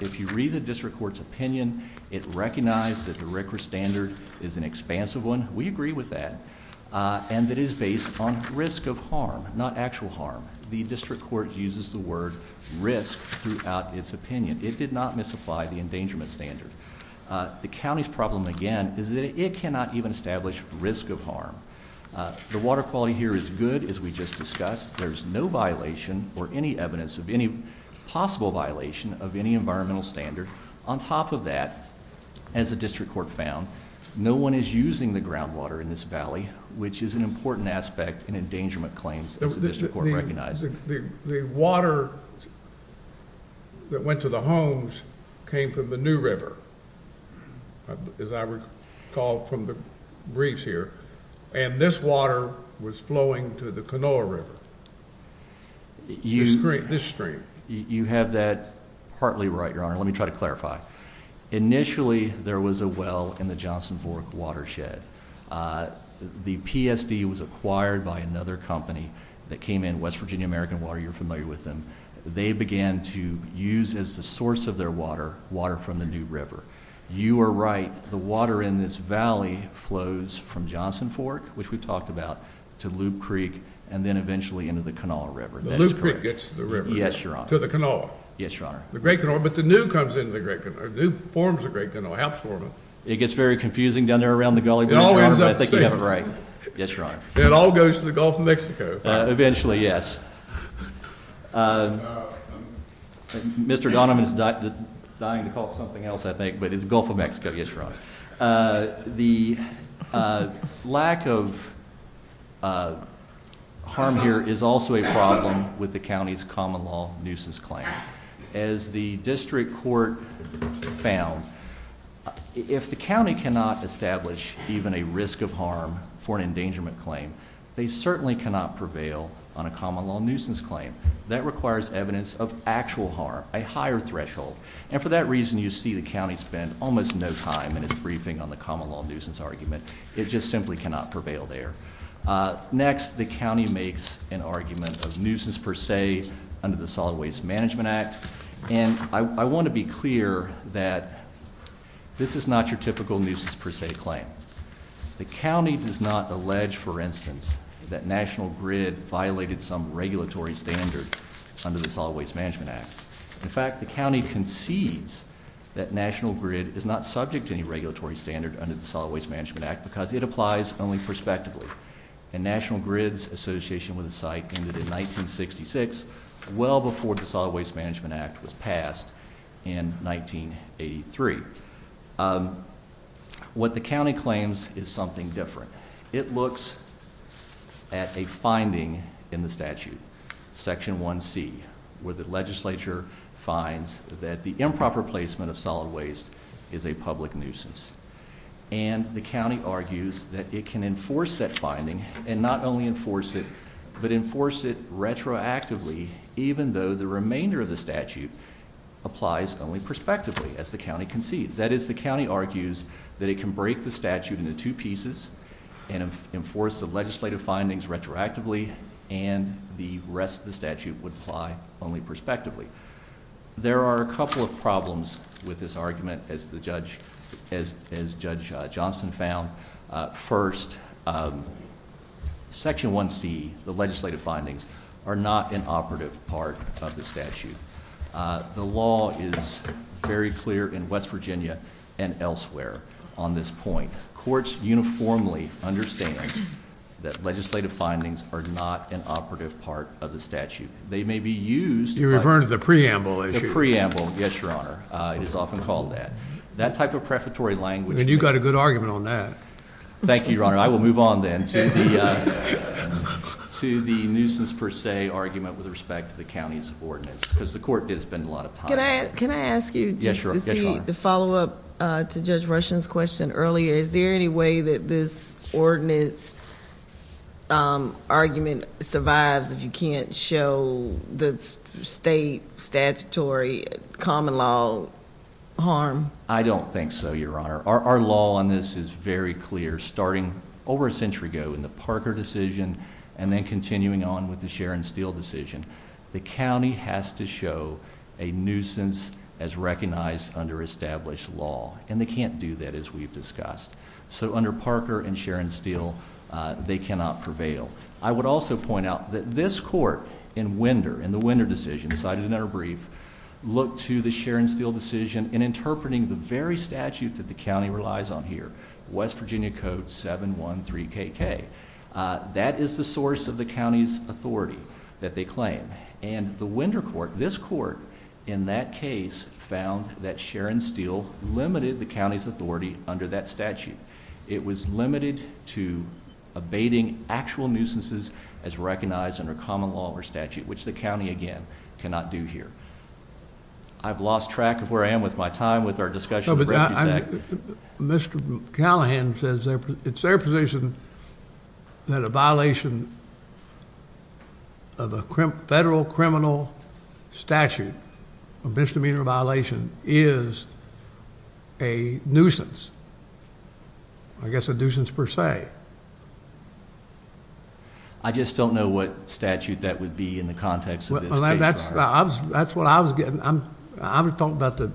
If you read the district court's opinion, it recognized that the RCRA standard is an expansive one. We agree with that. And it is based on risk of harm, not actual harm. The district court uses the word risk throughout its opinion. It did not misapply the endangerment standard. The county's problem, again, is that it cannot even establish risk of harm. The water quality here is good, as we just discussed. There's no violation or any evidence of any possible violation of any environmental standard. On top of that, as the district court found, no one is using the groundwater in this valley, which is an important aspect in endangerment claims, as the district court recognized. The water that went to the homes came from the New River, as I recall from the breach here. And this water was flowing to the Canola River, this stream. You have that partly right, Your Honor. Let me try to clarify. Initially, there was a well in the Johnson Fork watershed. The PSD was acquired by another company that came in, West Virginia American Water. You're familiar with them. They began to use as the source of their water, water from the New River. You are right. The water in this valley flows from Johnson Fork, which we talked about, to Loop Creek, and then eventually into the Canola River. The Loop Creek gets to the river. Yes, Your Honor. To the Canola. Yes, Your Honor. The Great Canola, but the New comes into the Great Canola. The New forms the Great Canola, helps form it. It gets very confusing down there around the gully. It all ends up the same. Right. Yes, Your Honor. It all goes to the Gulf of Mexico. Eventually, yes. Mr. Donovan is dying to call something else, I think, but it's the Gulf of Mexico. Yes, Your Honor. The lack of harm here is also a problem with the county's common law nuisance claim. As the district court found, if the county cannot establish even a risk of harm for an endangerment claim, they certainly cannot prevail on a common law nuisance claim. That requires evidence of actual harm, a higher threshold, and for that reason you see the county spend almost no time in its briefing on the common law nuisance argument. It just simply cannot prevail there. Next, the county makes an argument of nuisance per se under the Solid Waste Management Act, and I want to be clear that this is not your typical nuisance per se claim. The county does not allege, for instance, that National Grid violated some regulatory standard under the Solid Waste Management Act. In fact, the county concedes that National Grid is not subject to any regulatory standard under the Solid Waste Management Act because it applies only prospectively, and National Grid's association with the site ended in 1966, well before the Solid Waste Management Act was passed in 1983. What the county claims is something different. It looks at a finding in the statute, Section 1C, where the legislature finds that the improper placement of solid waste is a public nuisance, and the county argues that it can enforce that finding, and not only enforce it, but enforce it retroactively, even though the remainder of the statute applies only prospectively, as the county concedes. That is, the county argues that it can break the statute into two pieces and enforce the legislative findings retroactively, and the rest of the statute would apply only prospectively. There are a couple of problems with this argument, as Judge Johnson found. First, Section 1C, the legislative findings, are not an operative part of the statute. The law is very clear in West Virginia and elsewhere on this point. Courts uniformly understand that legislative findings are not an operative part of the statute. They may be used... You're referring to the preamble issue. The preamble, yes, Your Honor, is often called that. That type of prefatory language... You've got a good argument on that. Thank you, Your Honor. I will move on then to the nuisance per se argument with respect to the county's ordinance, because the court did spend a lot of time... Can I ask you to see the follow-up to Judge Rushen's question earlier? Is there any way that this ordinance argument survives if you can't show the state statutory common law harm? I don't think so, Your Honor. Our law on this is very clear, starting over a century ago in the Parker decision and then continuing on with the Sharon Steele decision. The county has to show a nuisance as recognized under established law, and they can't do that, as we've discussed. So under Parker and Sharon Steele, they cannot prevail. I would also point out that this court in Winder, in the Winder decision, looked to the Sharon Steele decision in interpreting the very statute that the county relies on here, West Virginia Code 713KK. That is the source of the county's authority that they claim, and the Winder court, this court in that case, found that Sharon Steele limited the county's authority under that statute. It was limited to abating actual nuisances as recognized under common law or statute, which the county, again, cannot do here. I've lost track of where I am with my time with our discussion. Mr. Callahan says it's their position that a violation of a federal criminal statute, a misdemeanor violation, is a nuisance. I guess a nuisance per se. I just don't know what statute that would be in the context of this case. That's what I was getting at. I'm talking about the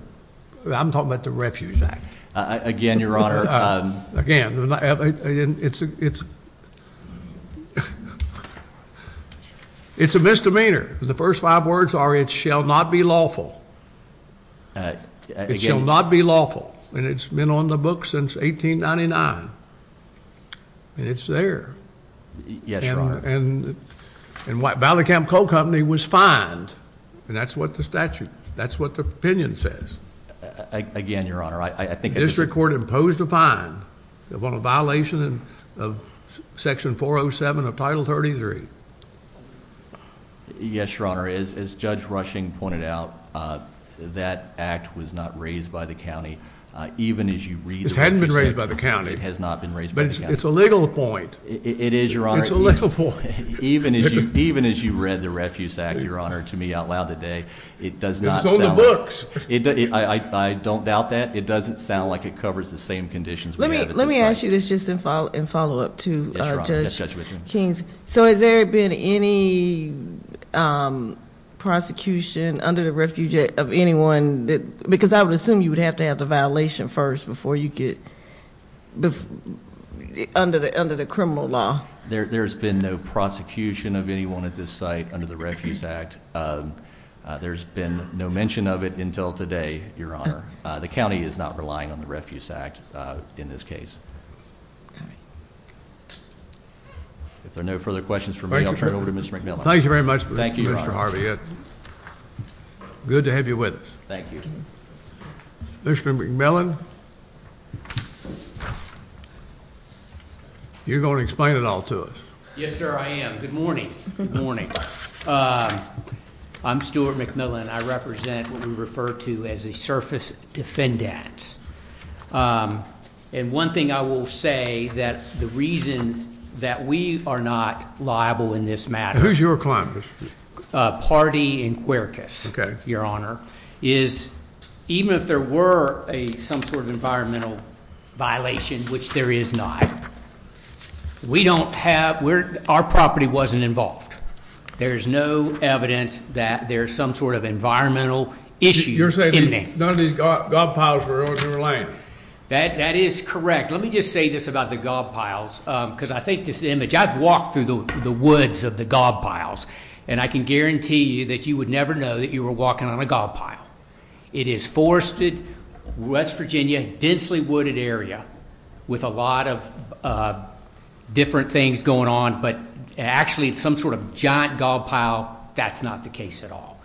Refuge Act. Again, Your Honor. Again, it's a misdemeanor. The first five words are it shall not be lawful. It shall not be lawful. And it's been on the books since 1899. It's there. Yes, Your Honor. And Ballycamp Coal Company was fined. And that's what the statute, that's what the opinion says. Again, Your Honor. This court imposed a fine upon a violation of Section 407 of Title 33. Yes, Your Honor. As Judge Rushing pointed out, that act was not raised by the county. It hadn't been raised by the county. But it's a legal point. It is, Your Honor. It's a legal point. Even as you read the Refuge Act, Your Honor, to me out loud today, it does not sound like it. It's on the books. I don't doubt that. It doesn't sound like it covers the same conditions. Let me ask you this just in follow-up to Judge King. So has there been any prosecution under the Refuge of anyone? Because I would assume you would have to have the violation first before you get under the criminal law. There's been no prosecution of anyone at this site under the Refuge Act. There's been no mention of it until today, Your Honor. The county is not relying on the Refuge Act in this case. If there are no further questions for me, I'll turn it over to Mr. McNamara. Thank you very much, Mr. Harvey. Good to have you with us. Thank you. Mr. McMillan, you're going to explain it all to us. Yes, sir, I am. Good morning. Good morning. I'm Stuart McMillan. I represent what we refer to as a surface defendant. And one thing I will say, that the reason that we are not liable in this matter. Who's your client, Mr. McMillan? Pardee and Quercus, Your Honor. Even if there were some sort of environmental violation, which there is not. We don't have, our property wasn't involved. There's no evidence that there's some sort of environmental issue in there. You're saying none of these gob piles were on the land? That is correct. Let me just say this about the gob piles. Because I think this image, I've walked through the woods of the gob piles. And I can guarantee you that you would never know that you were walking on a gob pile. It is forested, West Virginia, densely wooded area. With a lot of different things going on. But actually it's some sort of giant gob pile. That's not the case at all.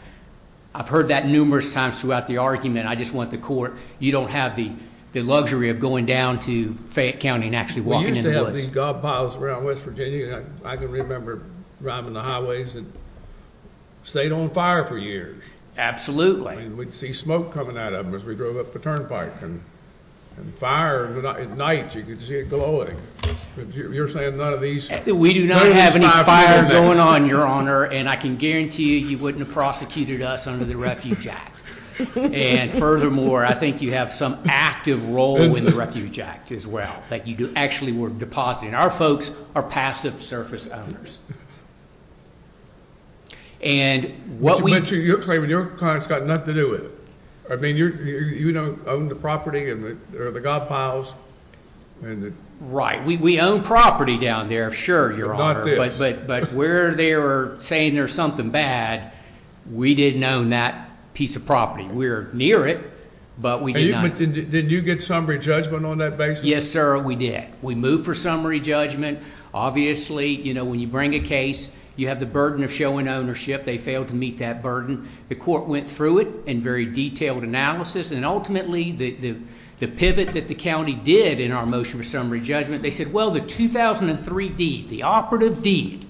I've heard that numerous times throughout the argument. I just want the court, you don't have the luxury of going down to Fayette County and actually walking in the woods. None of these gob piles were in West Virginia. I can remember driving the highways and stayed on fire for years. Absolutely. We'd see smoke coming out of them as we drove up the turnpike. And fire at night, you could see it glowing. You're saying none of these. We do not have any fire going on, Your Honor. And I can guarantee you he wouldn't have prosecuted us under the Refuge Act. And furthermore, I think you have some active role in the Refuge Act as well. Like you actually were depositing. Our folks are passive surface owners. You're claiming your client's got nothing to do with it. You don't own the property or the gob piles. Right. We own property down there, sure, Your Honor. But where they're saying there's something bad, we didn't own that piece of property. We're near it, but we did not. Did you get summary judgment on that basis? Yes, sir, we did. We moved for summary judgment. Obviously, you know, when you bring a case, you have the burden of showing ownership. They failed to meet that burden. The court went through it in very detailed analysis. And ultimately, the pivot that the county did in our motion for summary judgment, they said, well, the 2003 deed, the operative deed,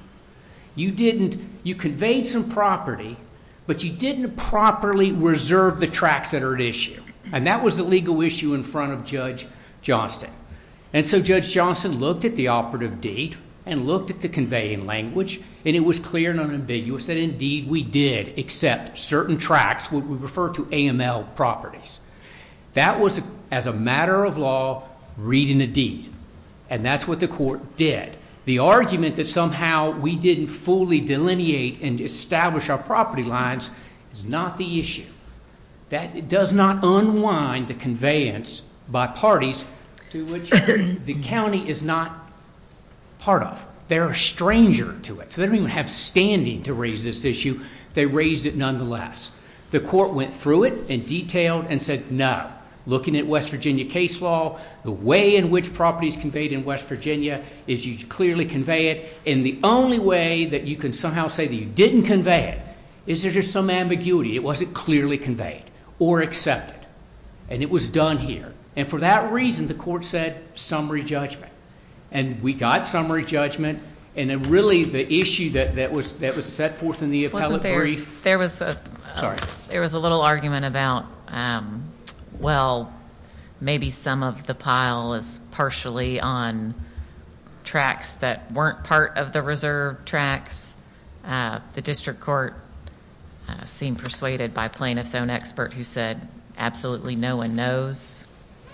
you conveyed some property, but you didn't properly reserve the tracks that are at issue. And that was the legal issue in front of Judge Johnson. And so Judge Johnson looked at the operative deed and looked at the conveying language, and it was clear and unambiguous that, indeed, we did accept certain tracks. We refer to AML properties. That was, as a matter of law, reading the deed. And that's what the court did. The argument that somehow we didn't fully delineate and establish our property lines is not the issue. That does not unwind the conveyance by parties to which the county is not part of. They're a stranger to it. So they don't even have standing to raise this issue. They raised it nonetheless. The court went through it in detail and said, no, looking at West Virginia case law, the way in which properties conveyed in West Virginia is you clearly convey it. And the only way that you can somehow say that you didn't convey it is there's just some ambiguity. It wasn't clearly conveyed or accepted. And it was done here. And for that reason, the court said summary judgment. And we got summary judgment. And then really the issue that was set forth in the appellate brief. There was a little argument about, well, maybe some of the pile is partially on tracks that weren't part of the reserve tracks. The district court seemed persuaded by plaintiff's own expert who said absolutely no one knows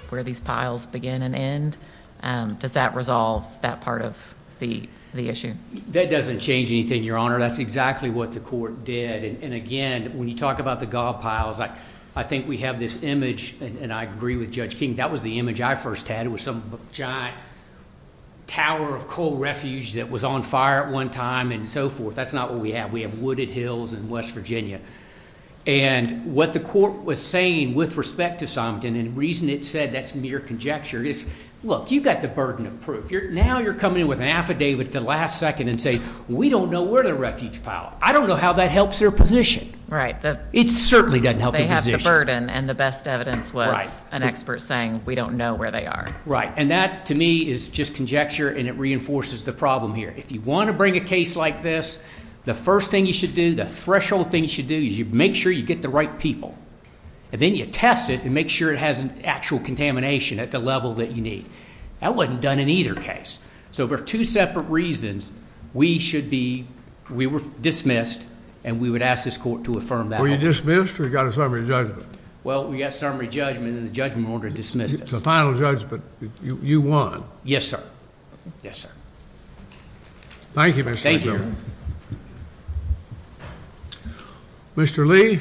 where these piles begin and end. Does that resolve that part of the issue? That doesn't change anything, Your Honor. That's exactly what the court did. And, again, when you talk about the golf piles, I think we have this image, and I agree with Judge King, that was the image I first had. It was some giant tower of coal refuge that was on fire at one time and so forth. That's not what we have. We have wooded hills in West Virginia. And what the court was saying with respect to something and the reason it said that's near conjecture is, look, you've got the burden of proof. Now you're coming in with an affidavit at the last second and saying we don't know where the refuge pile is. I don't know how that helps their position. It certainly doesn't help their position. And the best evidence was an expert saying we don't know where they are. And that, to me, is just conjecture and it reinforces the problem here. If you want to bring a case like this, the first thing you should do, the threshold thing you should do is you make sure you get the right people. And then you test it and make sure it has an actual contamination at the level that you need. That wasn't done in either case. So there are two separate reasons we should be, we were dismissed and we would ask this court to affirm that. Were you dismissed or you got a summary judgment? Well, we got a summary judgment and the judgment order dismissed us. So final judgment, you won. Yes, sir. Yes, sir. Thank you, Mr. Chairman. Thank you. Mr. Lee.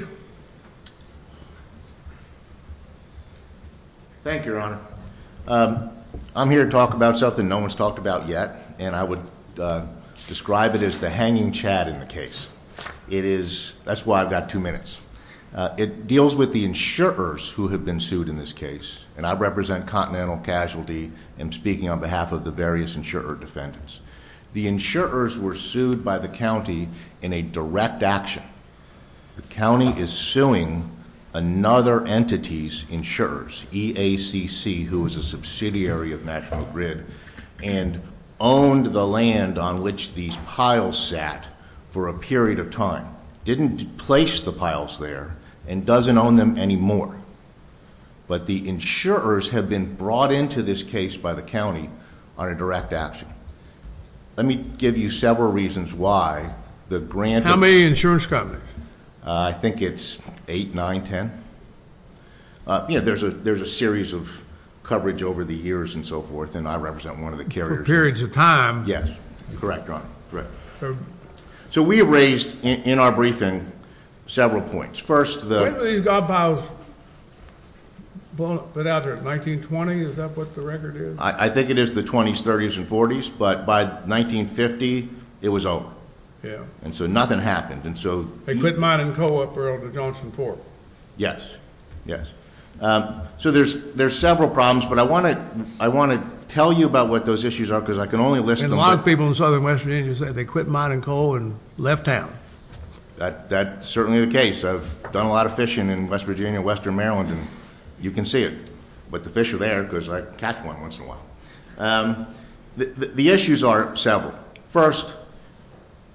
Thank you, Your Honor. I'm here to talk about something no one's talked about yet and I would describe it as the hanging chad in the case. It is, that's why I've got two minutes. It deals with the insurers who have been sued in this case. And I represent Continental Casualty and speaking on behalf of the various insurer defendants. The insurers were sued by the county in a direct action. The county is suing another entity's insurers, EACC, who is a subsidiary of National Grid, and owned the land on which these piles sat for a period of time. Didn't place the piles there and doesn't own them anymore. But the insurers have been brought into this case by the county on a direct action. Let me give you several reasons why. How many insurers got it? I think it's eight, nine, ten. You know, there's a series of coverage over the years and so forth, and I represent one of the carriers. For periods of time. Yes, you're correct, Your Honor. So we have raised in our briefing several points. First, the... I believe these up piles, whatever, 1920, is that what the record is? I think it is the 20s, 30s, and 40s, but by 1950, it was over. Yeah. And so nothing happened. And so... They put mine in co-operative with Johnson Fork. Yes. Yes. So there's several problems, but I want to tell you about what those issues are because I can only list... And a lot of people in southern West Virginia say they quit mining coal and left town. That's certainly the case. I've done a lot of fishing in West Virginia, Western Maryland, and you can see it. But the fish are there because I catch one once in a while. The issues are several. First,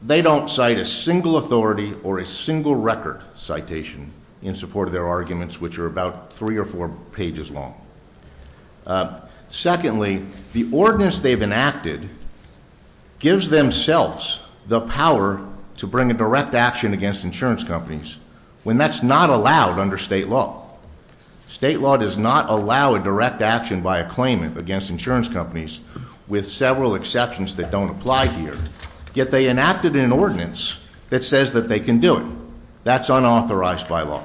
they don't cite a single authority or a single record citation in support of their arguments, which are about three or four pages long. Secondly, the ordinance they've enacted gives themselves the power to bring a direct action against insurance companies when that's not allowed under state law. State law does not allow a direct action by a claimant against insurance companies, with several exceptions that don't apply here. Yet they enacted an ordinance that says that they can do it. That's unauthorized by law.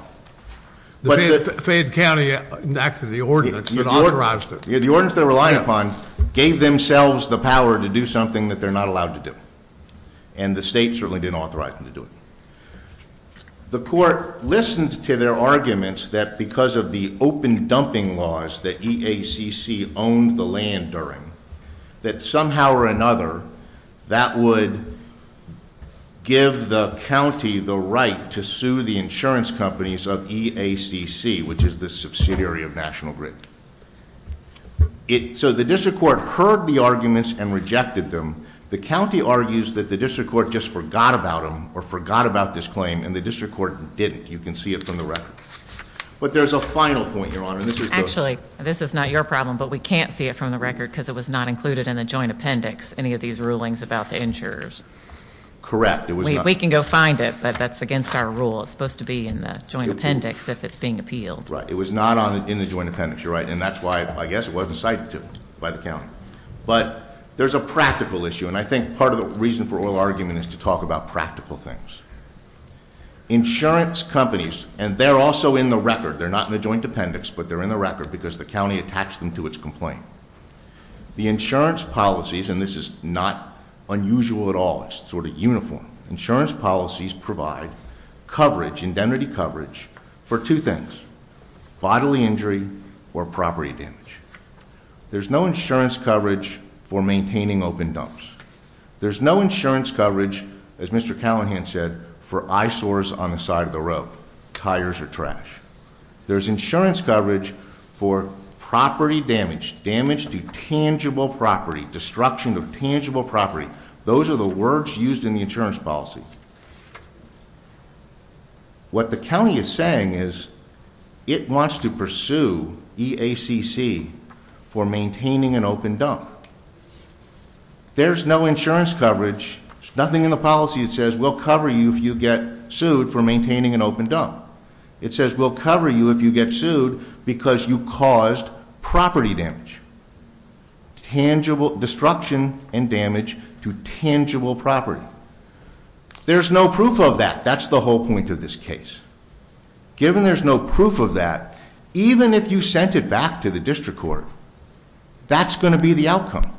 The Fayette County enacted the ordinance that authorized it. The ordinance they relied upon gave themselves the power to do something that they're not allowed to do. And the state certainly didn't authorize them to do it. The court listened to their arguments that because of the open dumping laws that EACC owned the land during, that somehow or another that would give the county the right to sue the insurance companies of EACC, which is the subsidiary of National Grid. So the district court heard the arguments and rejected them. The county argues that the district court just forgot about them or forgot about this claim, and the district court did it. You can see it from the record. But there's a final point, Your Honor. Actually, this is not your problem, but we can't see it from the record because it was not included in the joint appendix, any of these rulings about the insurers. Correct. We can go find it, but that's against our rule. It's supposed to be in the joint appendix if it's being appealed. Right. It was not in the joint appendix. You're right. And that's why, I guess, it wasn't cited by the county. But there's a practical issue, and I think part of the reason for oral argument is to talk about practical things. Insurance companies, and they're also in the record. They're not in the joint appendix, but they're in the record because the county attached them to its complaint. The insurance policies, and this is not unusual at all. It's sort of uniform. Insurance policies provide coverage, indemnity coverage, for two things, bodily injury or property damage. There's no insurance coverage for maintaining open dumps. There's no insurance coverage, as Mr. Callahan said, for eyesores on the side of the road, tires or trash. There's insurance coverage for property damage, damage to tangible property, destruction of tangible property. Those are the words used in the insurance policy. What the county is saying is it wants to pursue EACC for maintaining an open dump. There's no insurance coverage, nothing in the policy that says we'll cover you if you get sued for maintaining an open dump. It says we'll cover you if you get sued because you caused property damage, destruction and damage to tangible property. There's no proof of that. That's the whole point of this case. Given there's no proof of that, even if you sent it back to the district court, that's going to be the outcome.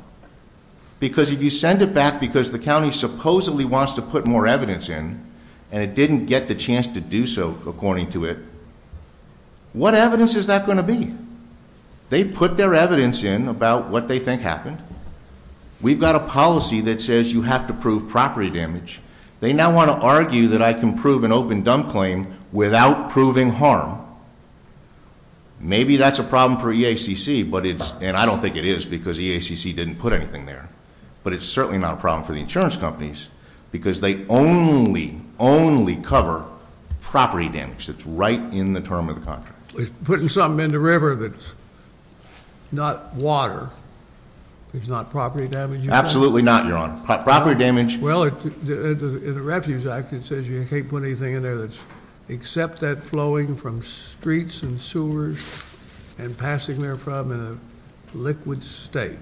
Because if you send it back because the county supposedly wants to put more evidence in and it didn't get the chance to do so according to it, what evidence is that going to be? They put their evidence in about what they think happened. We've got a policy that says you have to prove property damage. They now want to argue that I can prove an open dump claim without proving harm. Maybe that's a problem for EACC, and I don't think it is because EACC didn't put anything there. But it's certainly not a problem for the insurance companies because they only, only cover property damage. It's right in the term of the contract. It's putting something in the river that's not water. It's not property damage. Absolutely not, Your Honor. Property damage. Well, in the Refuge Act it says you can't put anything in there except that flowing from streets and sewers and passing there from in a liquid state.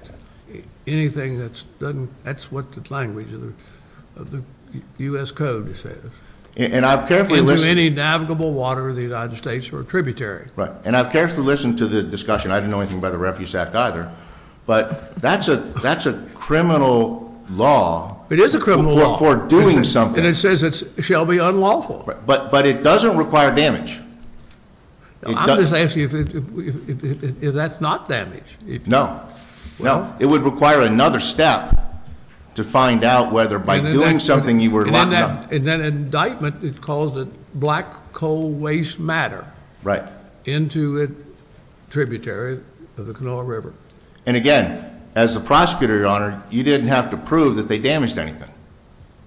Anything that's done, that's what the language of the U.S. Code says. Into any navigable water of the United States or a tributary. Right, and I've carefully listened to the discussion. I didn't know anything about the Refuge Act either. But that's a criminal law. It is a criminal law. For doing something. And it says it shall be unlawful. But it doesn't require damage. I'm just asking if that's not damage. No. No. It would require another step to find out whether by doing something you were allowed to. And then indictment calls it black coal waste matter. Right. Into a tributary of the Canoa River. And again, as the prosecutor, Your Honor, you didn't have to prove that they damaged anything.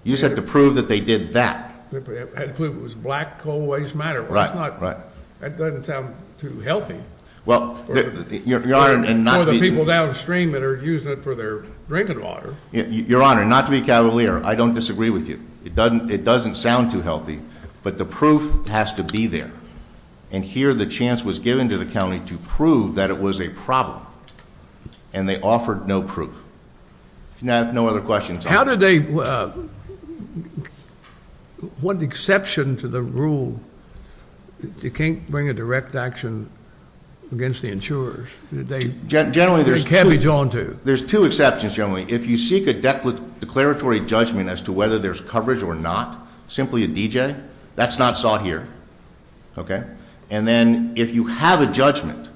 You just had to prove that they did that. Had to prove it was black coal waste matter. Right, right. That doesn't sound too healthy. Well, Your Honor. For the people downstream that are using it for their drinking water. Your Honor, not to be cavalier, I don't disagree with you. It doesn't sound too healthy. But the proof has to be there. And here the chance was given to the county to prove that it was a problem. And they offered no proof. Now, no other questions. How did they, what exception to the rule, you can't bring a direct action against the insurers. They can't be drawn to. There's two exceptions, generally. If you seek a declaratory judgment as to whether there's coverage or not, simply a DJ, that's not sought here. Okay. And then if you have a judgment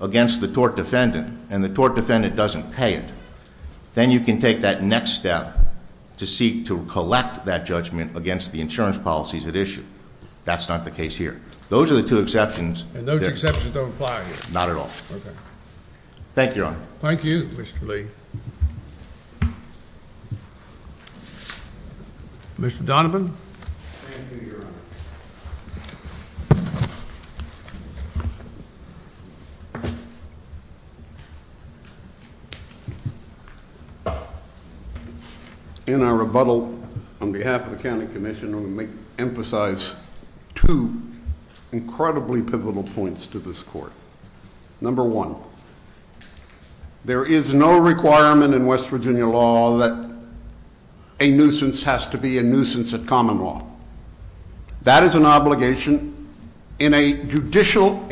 against the tort defendant and the tort defendant doesn't pay it, then you can take that next step to seek to collect that judgment against the insurance policies at issue. That's not the case here. Those are the two exceptions. And those exceptions don't apply here. Not at all. Okay. Thank you, Your Honor. Thank you, Mr. Lee. Mr. Donovan. Thank you, Your Honor. In our rebuttal on behalf of the county commission, I'm going to emphasize two incredibly pivotal points to this court. Number one, there is no requirement in West Virginia law that a nuisance has to be a nuisance at common law. That is an obligation in a judicial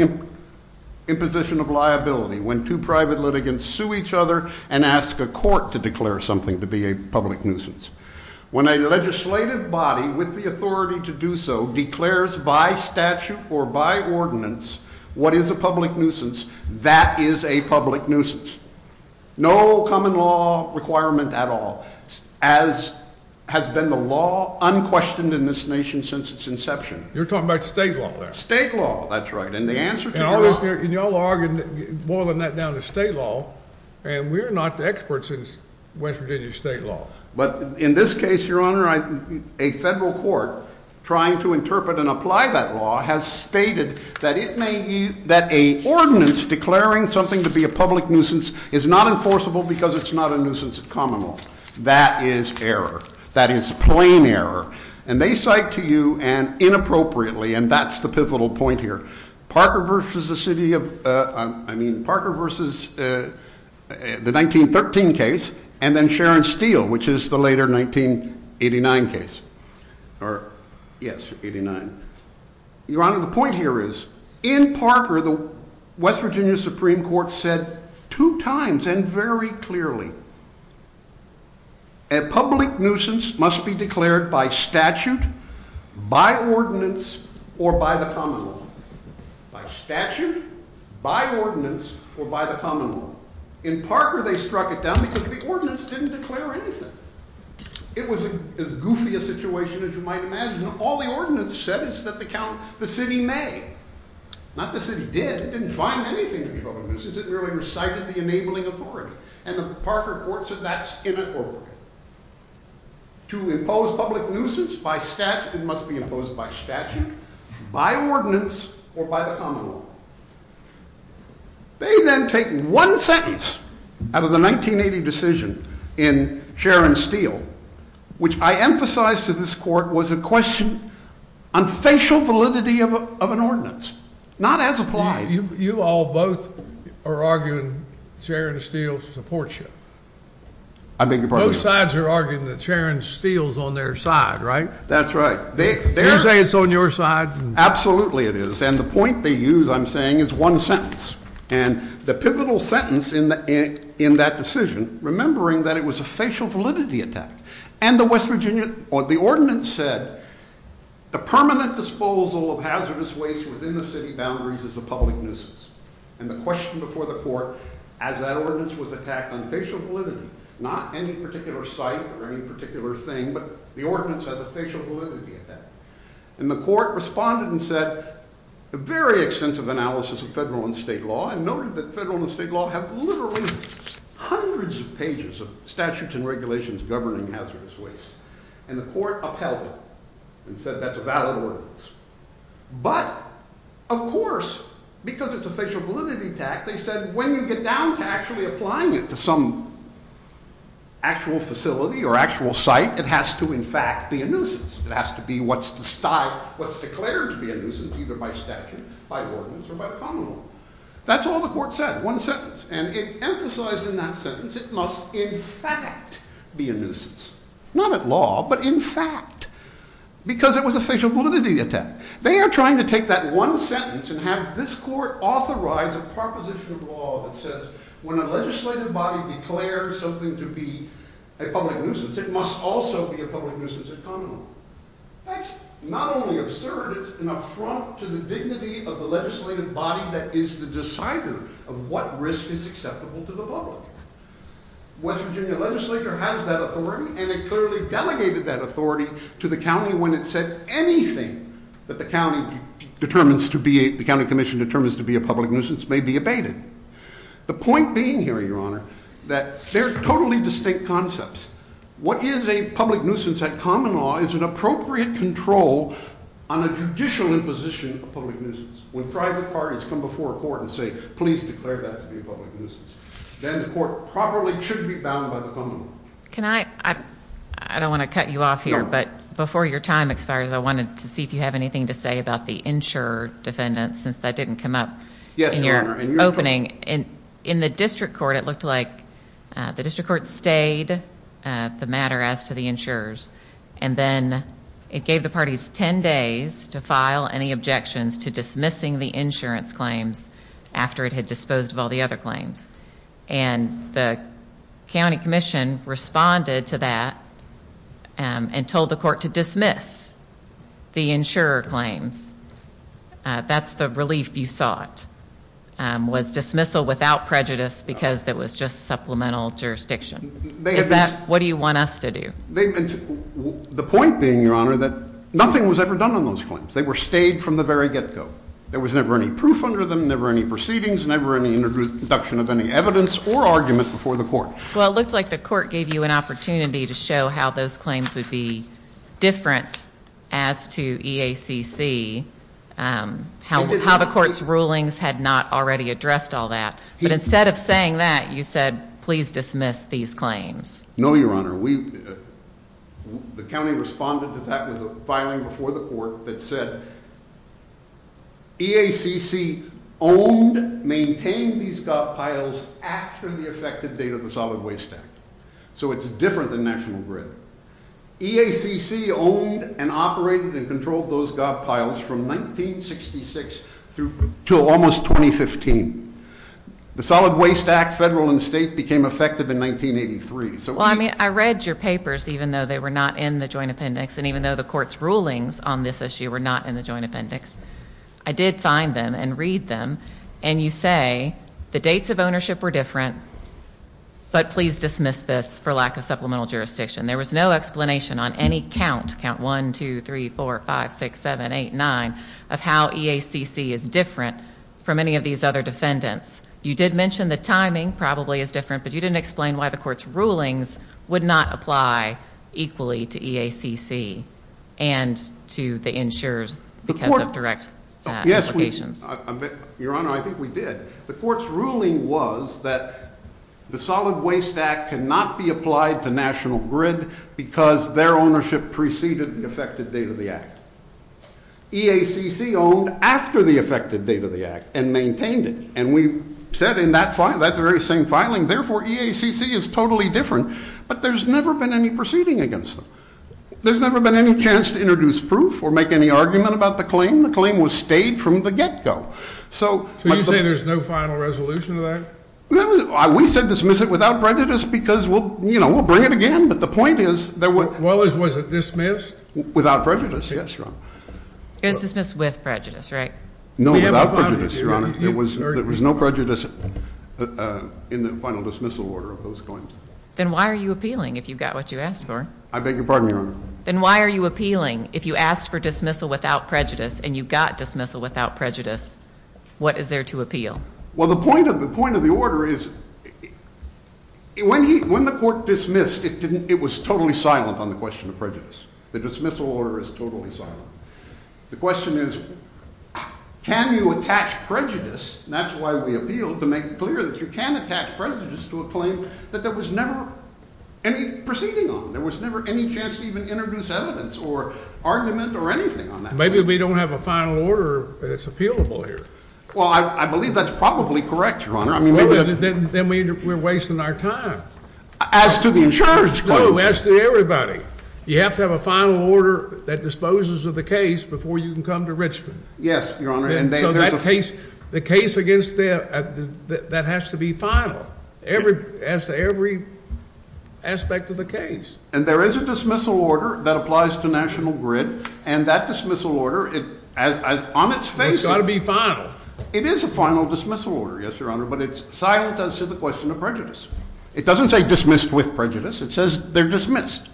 imposition of liability when two private litigants sue each other and ask a court to declare something to be a public nuisance. When a legislative body with the authority to do so declares by statute or by ordinance what is a public nuisance, that is a public nuisance. No common law requirement at all, as has been the law unquestioned in this nation since its inception. You're talking about state law. State law. That's right. And the answer to your argument, boiling that down to state law, and we're not the experts in West Virginia state law. But in this case, Your Honor, a federal court trying to interpret and apply that law has stated that a ordinance declaring something to be a public nuisance is not enforceable because it's not a nuisance at common law. That is error. That is plain error. And they cite to you, and inappropriately, and that's the pivotal point here, Parker v. the city of, I mean, Parker v. the 1913 case, and then Sharon Steele, which is the later 1989 case. Or, yes, 89. Your Honor, the point here is, in Parker, the West Virginia Supreme Court said two times and very clearly, a public nuisance must be declared by statute, by ordinance, or by the common law. By statute, by ordinance, or by the common law. In Parker, they struck it down because the ordinance didn't declare anything. It was as goofy a situation as you might imagine. All the ordinance said is that the city may. Not that the city did. It didn't say anything about it. The ordinance didn't really recite the enabling authority. And the Parker court said that's inappropriate. To impose public nuisance by statute, it must be imposed by statute, by ordinance, or by the common law. They then take one sentence out of the 1980 decision in Sharon Steele, which I emphasize to this court was a question on facial validity of an ordinance. Not as applied. You all both are arguing Sharon Steele supports you. I beg your pardon? Both sides are arguing that Sharon Steele is on their side, right? That's right. They say it's on your side. Absolutely it is. And the point they use, I'm saying, is one sentence. And the pivotal sentence in that decision, remembering that it was a facial validity attack, the ordinance said the permanent disposal of hazardous waste within the city boundaries is a public nuisance. And the question before the court, as that ordinance was attacked on facial validity, not any particular site or any particular thing, but the ordinance has a facial validity attack. And the court responded and said a very extensive analysis of federal and state law and noted that federal and state law have literally hundreds of pages of statutes and regulations governing hazardous waste. And the court upheld it and said that's a valid ordinance. But, of course, because it's a facial validity attack, they said when you get down to actually applying it to some actual facility or actual site, it has to, in fact, be a nuisance. It has to be what's declared to be a nuisance, either by statute, by ordinance, or by the common law. That's all the court said, one sentence. And it emphasized in that sentence it must, in fact, be a nuisance. Not at law, but in fact. Because it was a facial validity attack. They are trying to take that one sentence and have this court authorize a proposition of law that says when a legislative body declares something to be a public nuisance, it must also be a public nuisance at common law. That's not only absurd, it's an affront to the dignity of the legislative body that is the decider of what risk is acceptable to the law. West Virginia legislature has that authority and it clearly delegated that authority to the county when it said anything that the county determines to be, the county commission determines to be a public nuisance may be abated. The point being here, your honor, that there's totally distinct concepts. What is a public nuisance at common law is an appropriate control on a judicial imposition of a public nuisance. When private parties come before a court and say, please declare that to be a public nuisance, then the court probably should be bound by the common law. Can I, I don't want to cut you off here, but before your time expires, I wanted to see if you have anything to say about the insurer defendant, since that didn't come up in your opening. In the district court, it looked like the district court stayed the matter as to the insurers, and then it gave the parties 10 days to file any objections to dismissing the insurance claims after it had disposed of all the other claims. And the county commission responded to that and told the court to dismiss the insurer claims. That's the relief you sought, was dismissal without prejudice because it was just supplemental jurisdiction. What do you want us to do? The point being, your honor, that nothing was ever done on those claims. They were stayed from the very get-go. There was never any proof under them, never any proceedings, never any introduction of any evidence or arguments before the court. Well, it looks like the court gave you an opportunity to show how those claims would be different as to EACC, how the public court's rulings had not already addressed all that. But instead of saying that, you said, please dismiss these claims. No, your honor. The county responded to that with a filing before the court that said, EACC owned, maintained these godpiles after the effective date of the Solid Waste Act. So it's different than National Grid. EACC owned and operated and controlled those godpiles from 1966 to almost 2015. The Solid Waste Act, federal and state, became effective in 1983. I read your papers, even though they were not in the Joint Appendix, and even though the court's rulings on this issue were not in the Joint Appendix. I did find them and read them, and you say the dates of ownership were different, but please dismiss this for lack of supplemental jurisdiction. There was no explanation on any count, count 1, 2, 3, 4, 5, 6, 7, 8, 9, of how EACC is different from any of these other defendants. You did mention the timing probably is different, but you didn't explain why the court's rulings would not apply equally to EACC and to the insurers because of direct implications. Your Honor, I think we did. The court's ruling was that the Solid Waste Act cannot be applied to National Grid because their ownership preceded the effective date of the Act. EACC owned after the effective date of the Act and maintained it, and we said in that very same filing, therefore EACC is totally different, but there's never been any proceeding against them. There's never been any chance to introduce proof or make any argument about the claim. The claim was stayed from the get-go. So you're saying there's no final resolution to that? We said dismiss it without prejudice because, you know, we'll bring it again, but the point is there was... Well, was it dismissed? Without prejudice, yes, Your Honor. It was dismissed with prejudice, right? No, without prejudice, Your Honor. There was no prejudice in the final dismissal order of those claims. Then why are you appealing if you've got what you asked for? I beg your pardon, Your Honor. Then why are you appealing if you asked for dismissal without prejudice and you got dismissal without prejudice? What is there to appeal? Well, the point of the order is when the court dismissed, it was totally silent on the question of prejudice. The dismissal order is totally silent. The question is can you attach prejudice, and that's why we appealed to make clear that you can attach prejudice to a claim that there was never any proceeding on. There was never any chance to even introduce evidence or argument or anything on that. Maybe if we don't have a final order, it's appealable here. Well, I believe that's probably correct, Your Honor. Then we're wasting our time. As to the insurance claim, as to everybody, you have to have a final order that disposes of the case before you can come to Richmond. Yes, Your Honor. The case against there, that has to be final. Every aspect of the case. And there is a dismissal order that applies to National Grid, and that dismissal order, on its basis— That's got to be final. It is a final dismissal order, yes, Your Honor, but it's silent as to the question of prejudice. It doesn't say dismissed with prejudice. It says they're dismissed.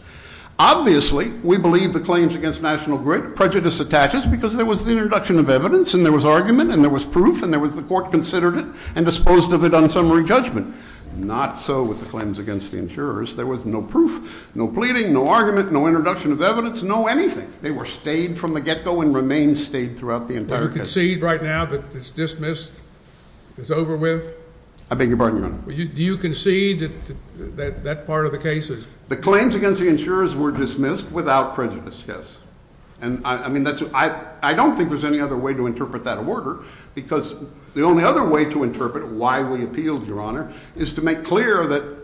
Obviously, we believe the claims against National Grid, prejudice attaches because there was the introduction of evidence, and there was argument, and there was proof, and the court considered it and disposed of it on summary judgment. Not so with the claims against the insurers. There was no proof, no pleading, no argument, no introduction of evidence, no anything. They were stayed from the get-go and remain stayed throughout the entire case. Do you concede right now that it's dismissed, it's over with? I beg your pardon, Your Honor. Do you concede that that part of the case is— The claims against the insurers were dismissed without prejudice, yes. And, I mean, I don't think there's any other way to interpret that order because the only other way to interpret why we appealed, Your Honor, is to make clear that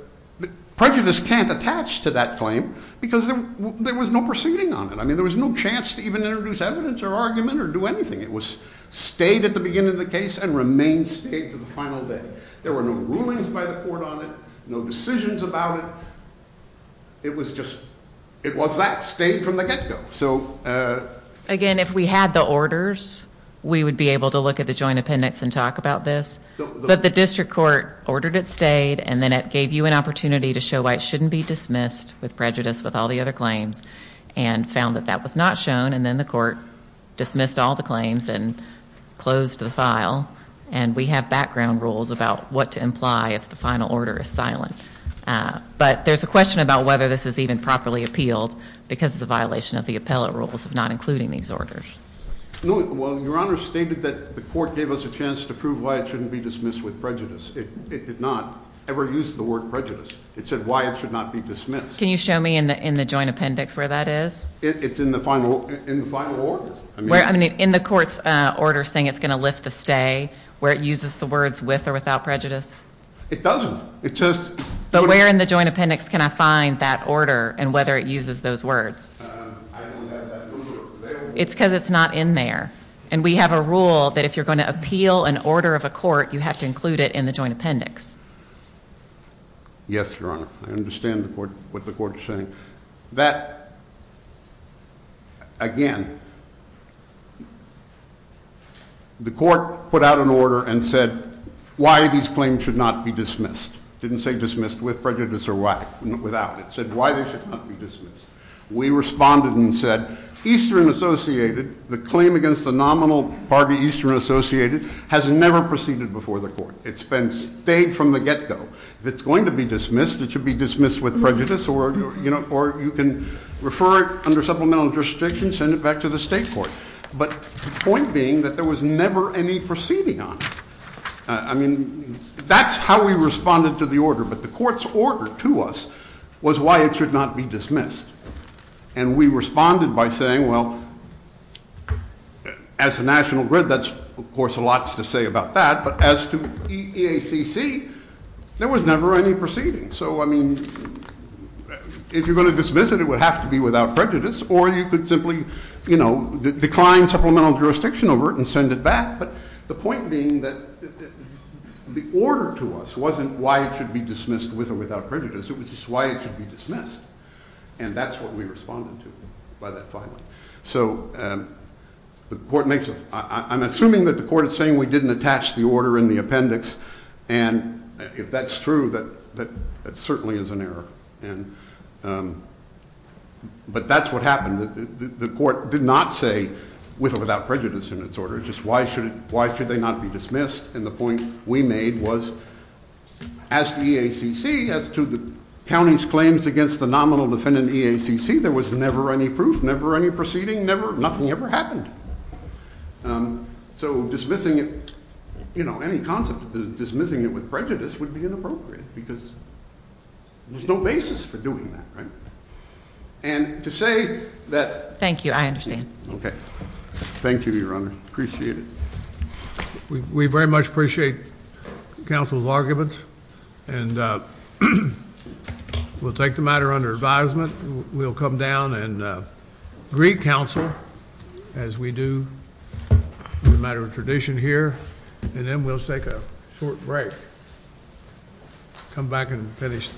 prejudice can't attach to that claim because there was no proceeding on it. I mean, there was no chance to even introduce evidence or argument or do anything. It was stayed at the beginning of the case and remained stayed to the final day. There were no rulings by the court on it, no decisions about it. It was just—it was that, stayed from the get-go. Okay, so— Again, if we had the orders, we would be able to look at the joint appendix and talk about this. But the district court ordered it stayed, and then it gave you an opportunity to show why it shouldn't be dismissed with prejudice with all the other claims and found that that was not shown, and then the court dismissed all the claims and closed the file. And we have background rules about what to imply if the final order is silenced. But there's a question about whether this is even properly appealed because of the violation of the appellate rules of not including these orders. Well, Your Honor stated that the court gave us a chance to prove why it shouldn't be dismissed with prejudice. It did not ever use the word prejudice. It said why it should not be dismissed. Can you show me in the joint appendix where that is? It's in the final order. In the court's order saying it's going to lift the stay, where it uses the words with or without prejudice? It doesn't. It just— But where in the joint appendix can I find that order and whether it uses those words? It's because it's not in there. And we have a rule that if you're going to appeal an order of a court, you have to include it in the joint appendix. Yes, Your Honor. I understand what the court is saying. That, again, the court put out an order and said why these claims should not be dismissed. It didn't say dismissed with prejudice or without. It said why they should not be dismissed. We responded and said Eastern Associated, the claim against the nominal Barney Eastern Associated, has never proceeded before the court. It's been stayed from the get-go. If it's going to be dismissed, it should be dismissed with prejudice, or you can refer it under supplemental jurisdiction, send it back to the state court. But the point being that there was never any proceeding on it. I mean, that's how we responded to the order. But the court's order to us was why it should not be dismissed. And we responded by saying, well, as to National Grid, that's, of course, a lot to say about that. But as to EACC, there was never any proceeding. So, I mean, if you're going to dismiss it, it would have to be without prejudice, or you could simply, you know, decline supplemental jurisdiction over it and send it back. But the point being that the order to us wasn't why it should be dismissed with or without prejudice. It was just why it should be dismissed. And that's what we responded to by that final. So the court makes it. I'm assuming that the court is saying we didn't attach the order in the appendix. And if that's true, that certainly is an error. But that's what happened. The court did not say with or without prejudice in its order. Just why should they not be dismissed. And the point we made was, as EACC, as to the county's claims against the nominal defendant EACC, there was never any proof, never any proceeding, nothing ever happened. So dismissing it, you know, any concept of dismissing it with prejudice would be inappropriate because there's no basis for doing that, right? And to say that. Thank you. I understand. Okay. Thank you, Your Honor. Appreciate it. We very much appreciate counsel's arguments. And we'll take the matter under advisement. We'll come down and greet counsel as we do as a matter of tradition here. And then we'll take a short break. Come back and finish. Goodbye.